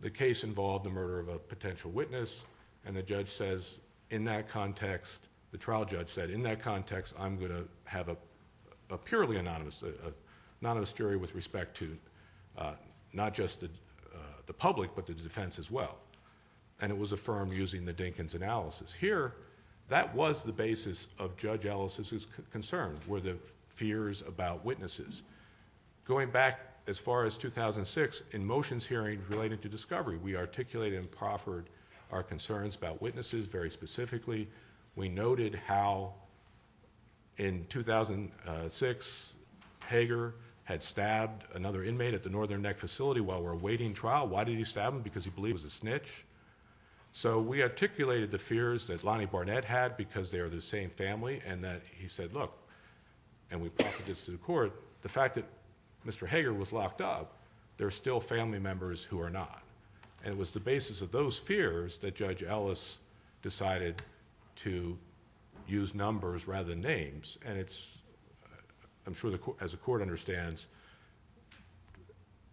The case involved the murder of a potential witness, and the judge says, in that context, the trial judge said, in that context, I'm going to have a purely anonymous jury with respect to not just the public, but the defense as well. And it was affirmed using the Dinkins analysis. Here, that was the basis of Judge Ellis's concerns were the fears about witnesses. Going back as far as 2006, in motions hearing related to discovery, we articulated and proffered our concerns about witnesses very specifically. We noted how, in 2006, Hager had stabbed another inmate at the Northern Neck facility while we were awaiting trial. Why did he stab him? Because he believed he was a snitch. So we articulated the fears that Lonnie Barnett had because they are the same family, and that he said, look, and we proffered this to the court, the fact that Mr. Hager was locked up, there are still family members who are not. And it was the basis of those fears that Judge Ellis decided to use numbers rather than names. And I'm sure, as the court understands,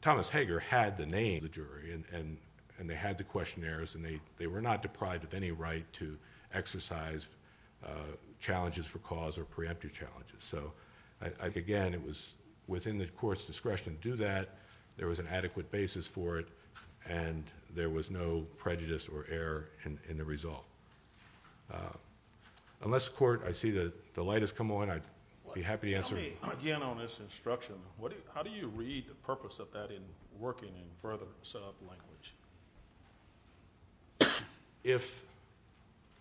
Thomas Hager had the name of the jury, and they had the questionnaires, and they were not deprived of any right to exercise challenges for cause or preemptive challenges. So, again, it was within the court's discretion to do that, there was an adequate basis for it, and there was no prejudice or error in the result. Unless, court, I see the light has come on, I'd be happy to answer. Tell me again on this instruction, how do you read the purpose of that in working in further set-up language? If,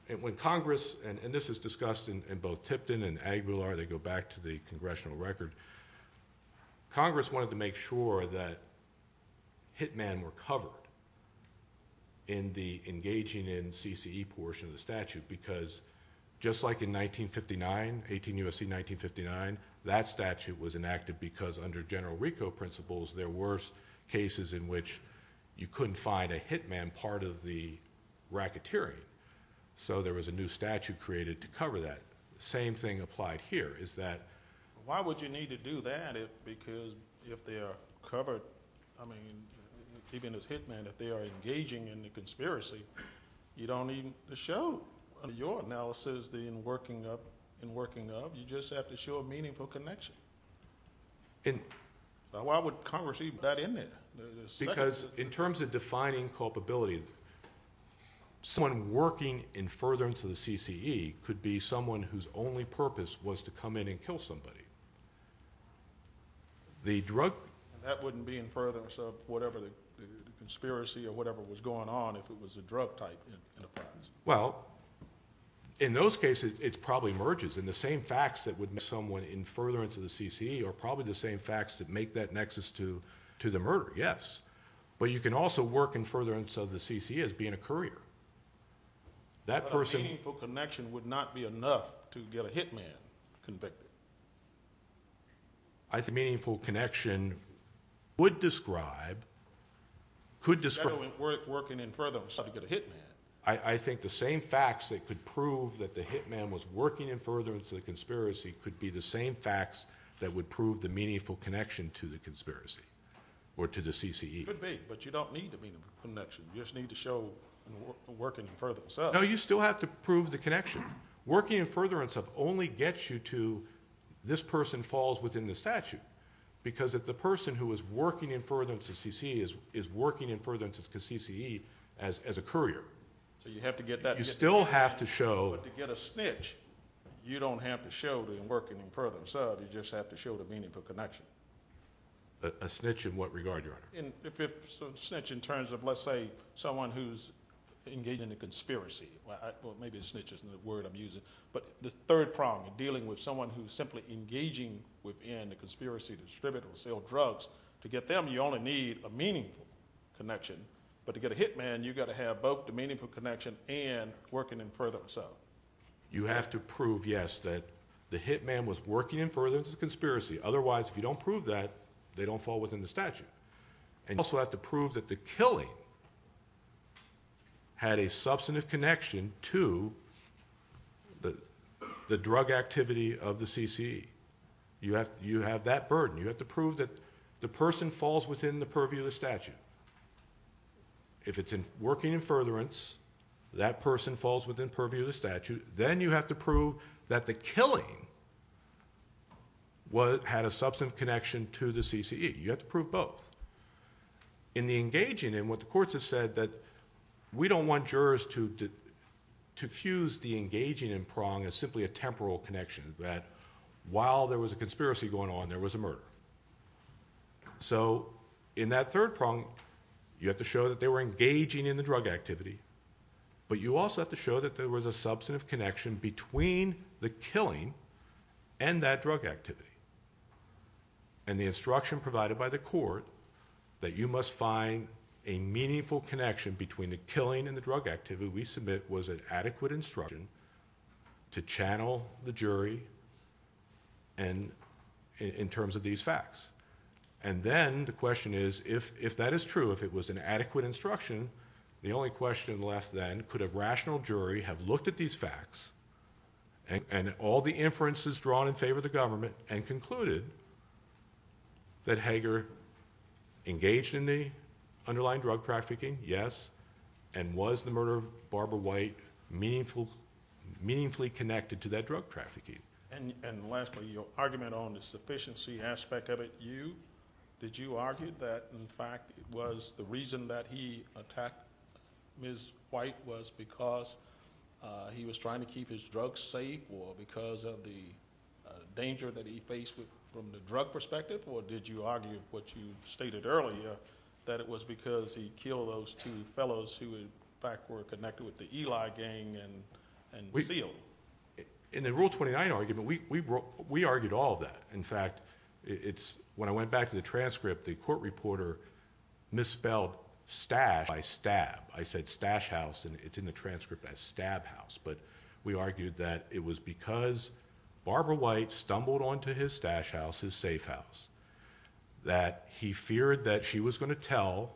and when Congress, and this is discussed in both Tipton and Aguilar, they go back to the Congressional record, Congress wanted to make sure that hitmen were covered in the engaging in CCE portion of the statute, because just like in 1959, 18 U.S.C. 1959, that statute was enacted because under general RICO principles there were cases in which you couldn't find a hitman part of the racketeering, so there was a new statute created to cover that. Same thing applied here, is that... Why would you need to do that if, because if they are covered, I mean, even as hitmen, if they are engaging in the conspiracy, you don't need to show your analysis in working up, in working up, you just have to show a meaningful connection. And... Why would Congress even put that in there? Because in terms of defining culpability, someone working in furtherance of the CCE could be someone whose only purpose was to come in and kill somebody. The drug... That wouldn't be in furtherance of whatever the conspiracy or whatever was going on if it was a drug type. Well, in those cases, it probably merges, and the same facts that would make someone in furtherance of the CCE are probably the same facts that make that nexus to the murder, yes. But you can also work in furtherance of the CCE as being a courier. That person... But a meaningful connection would not be enough to get a hitman convicted. A meaningful connection would describe... Could describe... Instead of working in furtherance, how to get a hitman. I think the same facts that could prove that the hitman was working in furtherance of the conspiracy could be the same facts that would prove the meaningful connection to the conspiracy or to the CCE. Could be, but you don't need a meaningful connection. You just need to show working in furtherance. No, you still have to prove the connection. Working in furtherance only gets you to... This person falls within the statute because the person who is working in furtherance of the CCE is working in furtherance of the CCE as a courier. So you have to get that... But you still have to show... But to get a snitch, you don't have to show them working in furtherance of, you just have to show the meaningful connection. A snitch in what regard, Your Honor? A snitch in terms of, let's say, someone who's engaged in a conspiracy. Well, maybe a snitch isn't the word I'm using. But the third prong, dealing with someone who's simply engaging within a conspiracy to distribute or sell drugs, to get them, you only need a meaningful connection. But to get a hitman, you've got to have both the meaningful connection and working in furtherance of. You have to prove, yes, that the hitman was working in furtherance of the conspiracy. Otherwise, if you don't prove that, they don't fall within the statute. And you also have to prove that the killing had a substantive connection to the drug activity of the CCE. You have that burden. You have to prove that the person falls within the purview of the statute. If it's working in furtherance, that person falls within purview of the statute, then you have to prove that the killing had a substantive connection to the CCE. You have to prove both. In the engaging in, what the courts have said, that we don't want jurors to fuse the engaging in prong as simply a temporal connection, that while there was a conspiracy going on, there was a murder. So in that third prong, you have to show that they were engaging in the drug activity, but you also have to show that there was a substantive connection between the killing and that drug activity. And the instruction provided by the court that you must find a meaningful connection between the killing and the drug activity we submit was an adequate instruction to channel the jury in terms of these facts. And then the question is, if that is true, if it was an adequate instruction, the only question left then, could a rational jury have looked at these facts and all the inferences drawn in favour of the government and concluded that Hager engaged in the underlying drug trafficking? Yes. And was the murder of Barbara White meaningfully connected to that drug trafficking? And lastly, your argument on the sufficiency aspect of it, did you argue that, in fact, it was the reason that he attacked Ms. White was because he was trying to keep his drugs safe or because of the danger that he faced from the drug perspective, or did you argue, which you stated earlier, that it was because he killed those two fellows who, in fact, were connected with the Eli gang and sealed? In the Rule 29 argument, we argued all of that. In fact, when I went back to the transcript, the court reporter misspelled stash by stab. I said stash house, and it's in the transcript as stab house. But we argued that it was because Barbara White stumbled onto his stash house, his safe house, that he feared that she was going to tell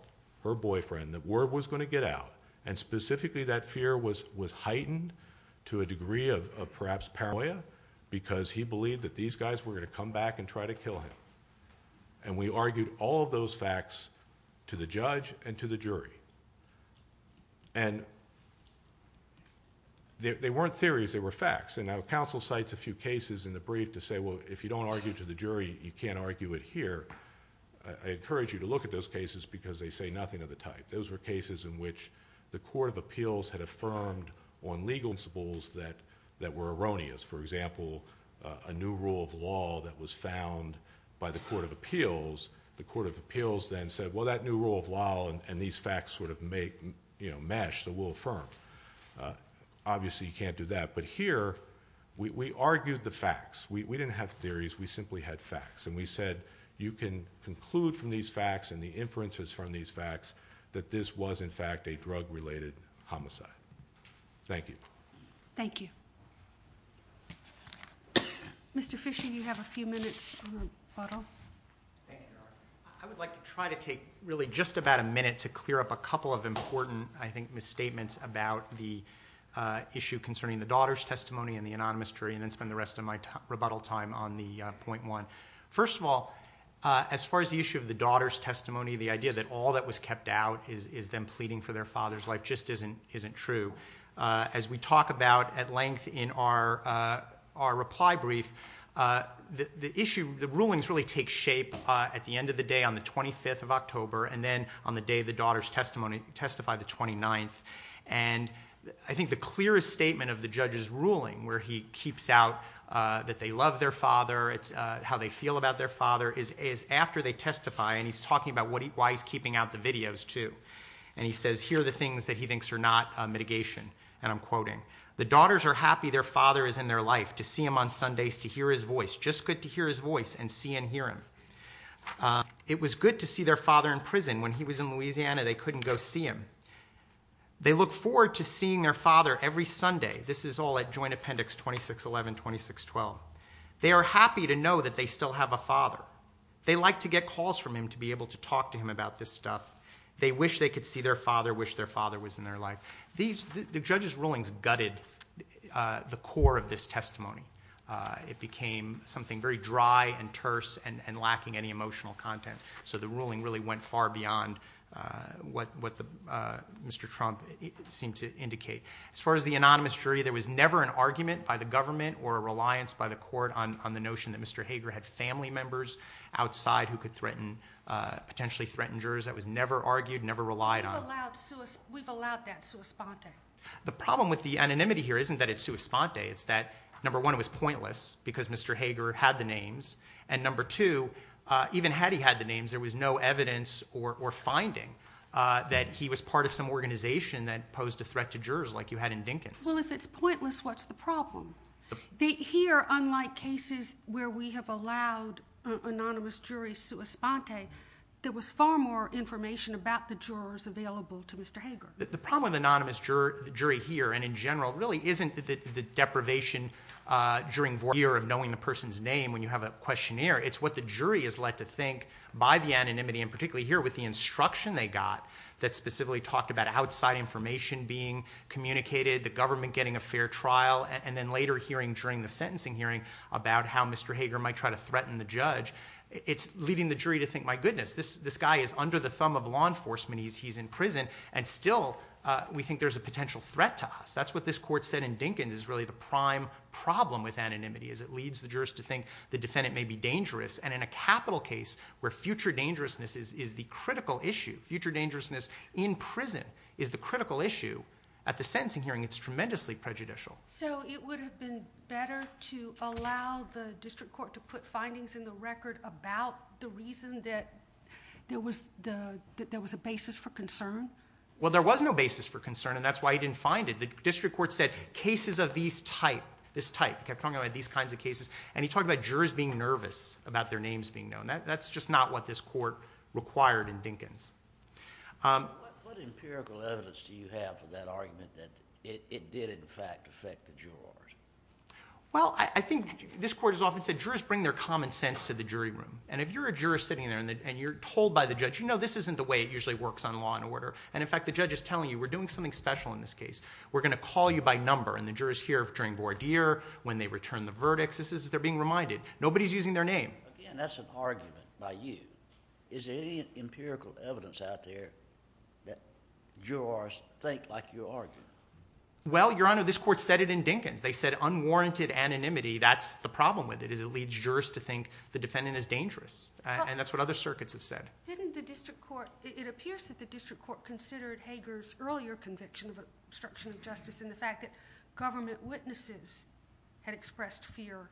her boyfriend that word was going to get out, and specifically that fear was heightened to a degree of perhaps paranoia because he believed that these guys were going to come back and try to kill him. And we argued all of those facts to the judge and to the jury. And they weren't theories, they were facts. And now counsel cites a few cases in the brief to say, well, if you don't argue to the jury, you can't argue it here. I encourage you to look at those cases because they say nothing of the type. Those were cases in which the Court of Appeals had affirmed on legal principles that were erroneous. For example, a new rule of law that was found by the Court of Appeals. The Court of Appeals then said, well, that new rule of law and these facts sort of mesh, so we'll affirm. Obviously you can't do that. But here we argued the facts. We didn't have theories, we simply had facts. And we said you can conclude from these facts and the inferences from these facts that this was in fact a drug-related homicide. Thank you. Thank you. Mr. Fischer, you have a few minutes to rebuttal. I would like to try to take really just about a minute to clear up a couple of important, I think, misstatements about the issue concerning the daughter's testimony and the anonymous jury, and then spend the rest of my rebuttal time on the point one. First of all, as far as the issue of the daughter's testimony, the idea that all that was kept out is them pleading for their father's life just isn't true. As we talk about at length in our reply brief, the issue, the rulings really take shape at the end of the day, on the 25th of October, and then on the day the daughter's testimony testified, the 29th. And I think the clearest statement of the judge's ruling, where he keeps out that they love their father, how they feel about their father, is after they testify, and he's talking about why he's keeping out the videos too. And he says, here are the things that he thinks are not mitigation, and I'm quoting, the daughters are happy their father is in their life, to see him on Sundays, to hear his voice, just good to hear his voice and see and hear him. It was good to see their father in prison. When he was in Louisiana, they couldn't go see him. They look forward to seeing their father every Sunday. This is all at Joint Appendix 2611, 2612. They are happy to know that they still have a father. They like to get calls from him to be able to talk to him about this stuff. They wish they could see their father, wish their father was in their life. The judge's rulings gutted the core of this testimony. It became something very dry and terse and lacking any emotional content, so the ruling really went far beyond what Mr. Trump seemed to indicate. As far as the anonymous jury, there was never an argument by the government or a reliance by the court on the notion that Mr. Hager had family members outside who could potentially threaten jurors. That was never argued, never relied on. We've allowed that sua sponte. The problem with the anonymity here isn't that it's sua sponte. It's that, number one, it was pointless because Mr. Hager had the names, and number two, even had he had the names, there was no evidence or finding that he was part of some organization that posed a threat to jurors like you had in Dinkins. Well, if it's pointless, what's the problem? Here, unlike cases where we have allowed an anonymous jury sua sponte, there was far more information about the jurors available to Mr. Hager. The problem with the anonymous jury here and in general really isn't the deprivation during the year of knowing the person's name when you have a questionnaire. It's what the jury is led to think by the anonymity and particularly here with the instruction they got that specifically talked about outside information being communicated, the government getting a fair trial, and then later hearing during the sentencing hearing about how Mr. Hager might try to threaten the judge. It's leading the jury to think, my goodness, this guy is under the thumb of law enforcement. He's in prison, and still, we think there's a potential threat to us. That's what this court said in Dinkins is really the prime problem with anonymity is it leads the jurors to think the defendant may be dangerous, and in a capital case where future dangerousness is the critical issue, future dangerousness in prison is the critical issue, at the sentencing hearing it's tremendously prejudicial. So it would have been better to allow the district court to put findings in the record about the reason that there was a basis for concern? Well, there was no basis for concern, and that's why he didn't find it. The district court said cases of this type, kept talking about these kinds of cases, and he talked about jurors being nervous about their names being known. That's just not what this court required in Dinkins. What empirical evidence do you have for that argument that it did in fact affect the jurors? Well, I think this court has often said jurors bring their common sense to the jury room, and if you're a juror sitting there and you're told by the judge, you know this isn't the way it usually works on law and order, and in fact the judge is telling you we're doing something special in this case. We're going to call you by number, and the jurors hear during voir dire, when they return the verdict, this is as they're being reminded. Nobody's using their name. Again, that's an argument by you. Is there any empirical evidence out there that jurors think like you argue? Well, Your Honor, this court said it in Dinkins. They said unwarranted anonymity, that's the problem with it, is it leads jurors to think the defendant is dangerous, and that's what other circuits have said. Didn't the district court... It appears that the district court considered Hager's earlier conviction of obstruction of justice and the fact that government witnesses had expressed fear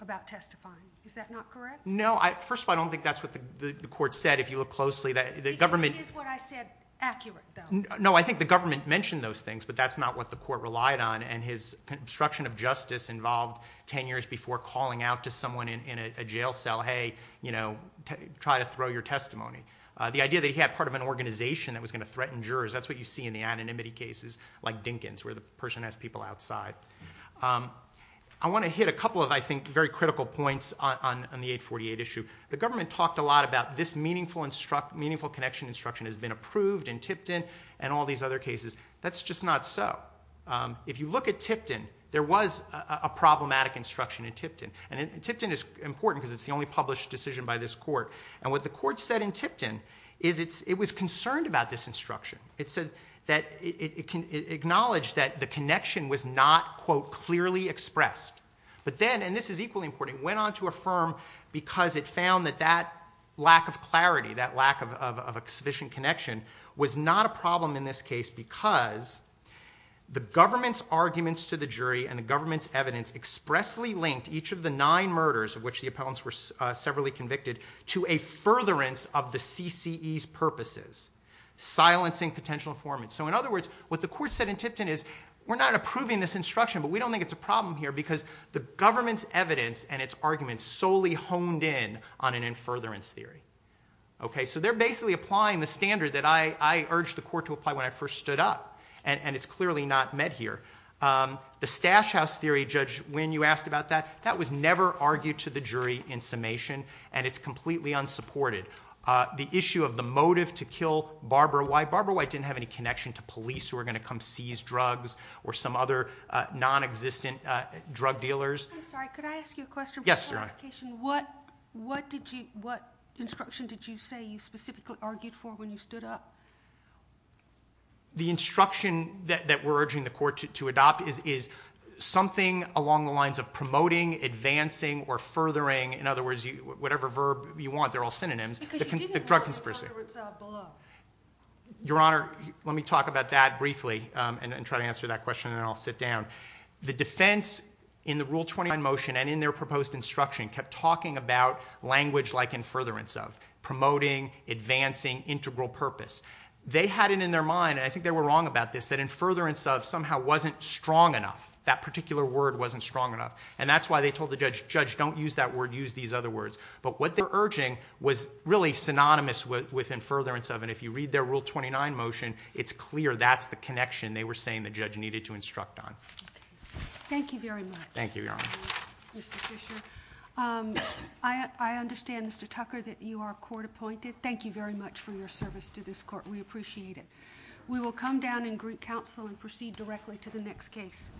about testifying. Is that not correct? No, first of all, I don't think that's what the court said. If you look closely, the government... Because it is what I said, accurate, though. No, I think the government mentioned those things, but that's not what the court relied on, and his obstruction of justice involved 10 years before calling out to someone in a jail cell, hey, you know, try to throw your testimony. The idea that he had part of an organization that was going to threaten jurors, that's what you see in the anonymity cases like Dinkins, where the person has people outside. I want to hit a couple of, I think, very critical points on the 848 issue. The government talked a lot about this meaningful connection instruction has been approved in Tipton and all these other cases. That's just not so. If you look at Tipton, there was a problematic instruction in Tipton. And Tipton is important because it's the only published decision by this court. And what the court said in Tipton is it was concerned about this instruction. It said that... It acknowledged that the connection was not, quote, clearly expressed. But then, and this is equally important, it went on to affirm because it found that that lack of clarity, that lack of sufficient connection was not a problem in this case because the government's arguments to the jury and the government's evidence expressly linked each of the nine murders of which the appellants were severally convicted to a furtherance of the CCE's purposes, silencing potential informants. So in other words, what the court said in Tipton is we're not approving this instruction, but we don't think it's a problem here because the government's evidence and its arguments solely honed in on an in furtherance theory. Okay, so they're basically applying the standard that I urged the court to apply when I first stood up. And it's clearly not met here. The Stash House theory, Judge Wynn, you asked about that, that was never argued to the jury in summation, and it's completely unsupported. The issue of the motive to kill Barbara White, Barbara White didn't have any connection to police who were going to come seize drugs or some other nonexistent drug dealers. I'm sorry, could I ask you a question? Yes, Your Honor. What instruction did you say you specifically argued for when you stood up? The instruction that we're urging the court to adopt is something along the lines of promoting, advancing, or furthering, in other words, whatever verb you want, they're all synonyms, the drug conspiracy. Because you didn't want it below. Your Honor, let me talk about that briefly and try to answer that question, and then I'll sit down. The defense in the Rule 29 motion and in their proposed instruction kept talking about language like in furtherance of, promoting, advancing, integral purpose. They had it in their mind, and I think they were wrong about this, that in furtherance of somehow wasn't strong enough. That particular word wasn't strong enough. And that's why they told the judge, Judge, don't use that word, use these other words. But what they were urging was really synonymous with in furtherance of, and if you read their Rule 29 motion, it's clear that's the connection they were saying the judge needed to instruct on. Thank you very much. Thank you, Your Honor. Mr. Fisher, I understand, Mr. Tucker, that you are court-appointed. Thank you very much for your service to this court. We appreciate it. We will come down and greet counsel and proceed directly to the next case.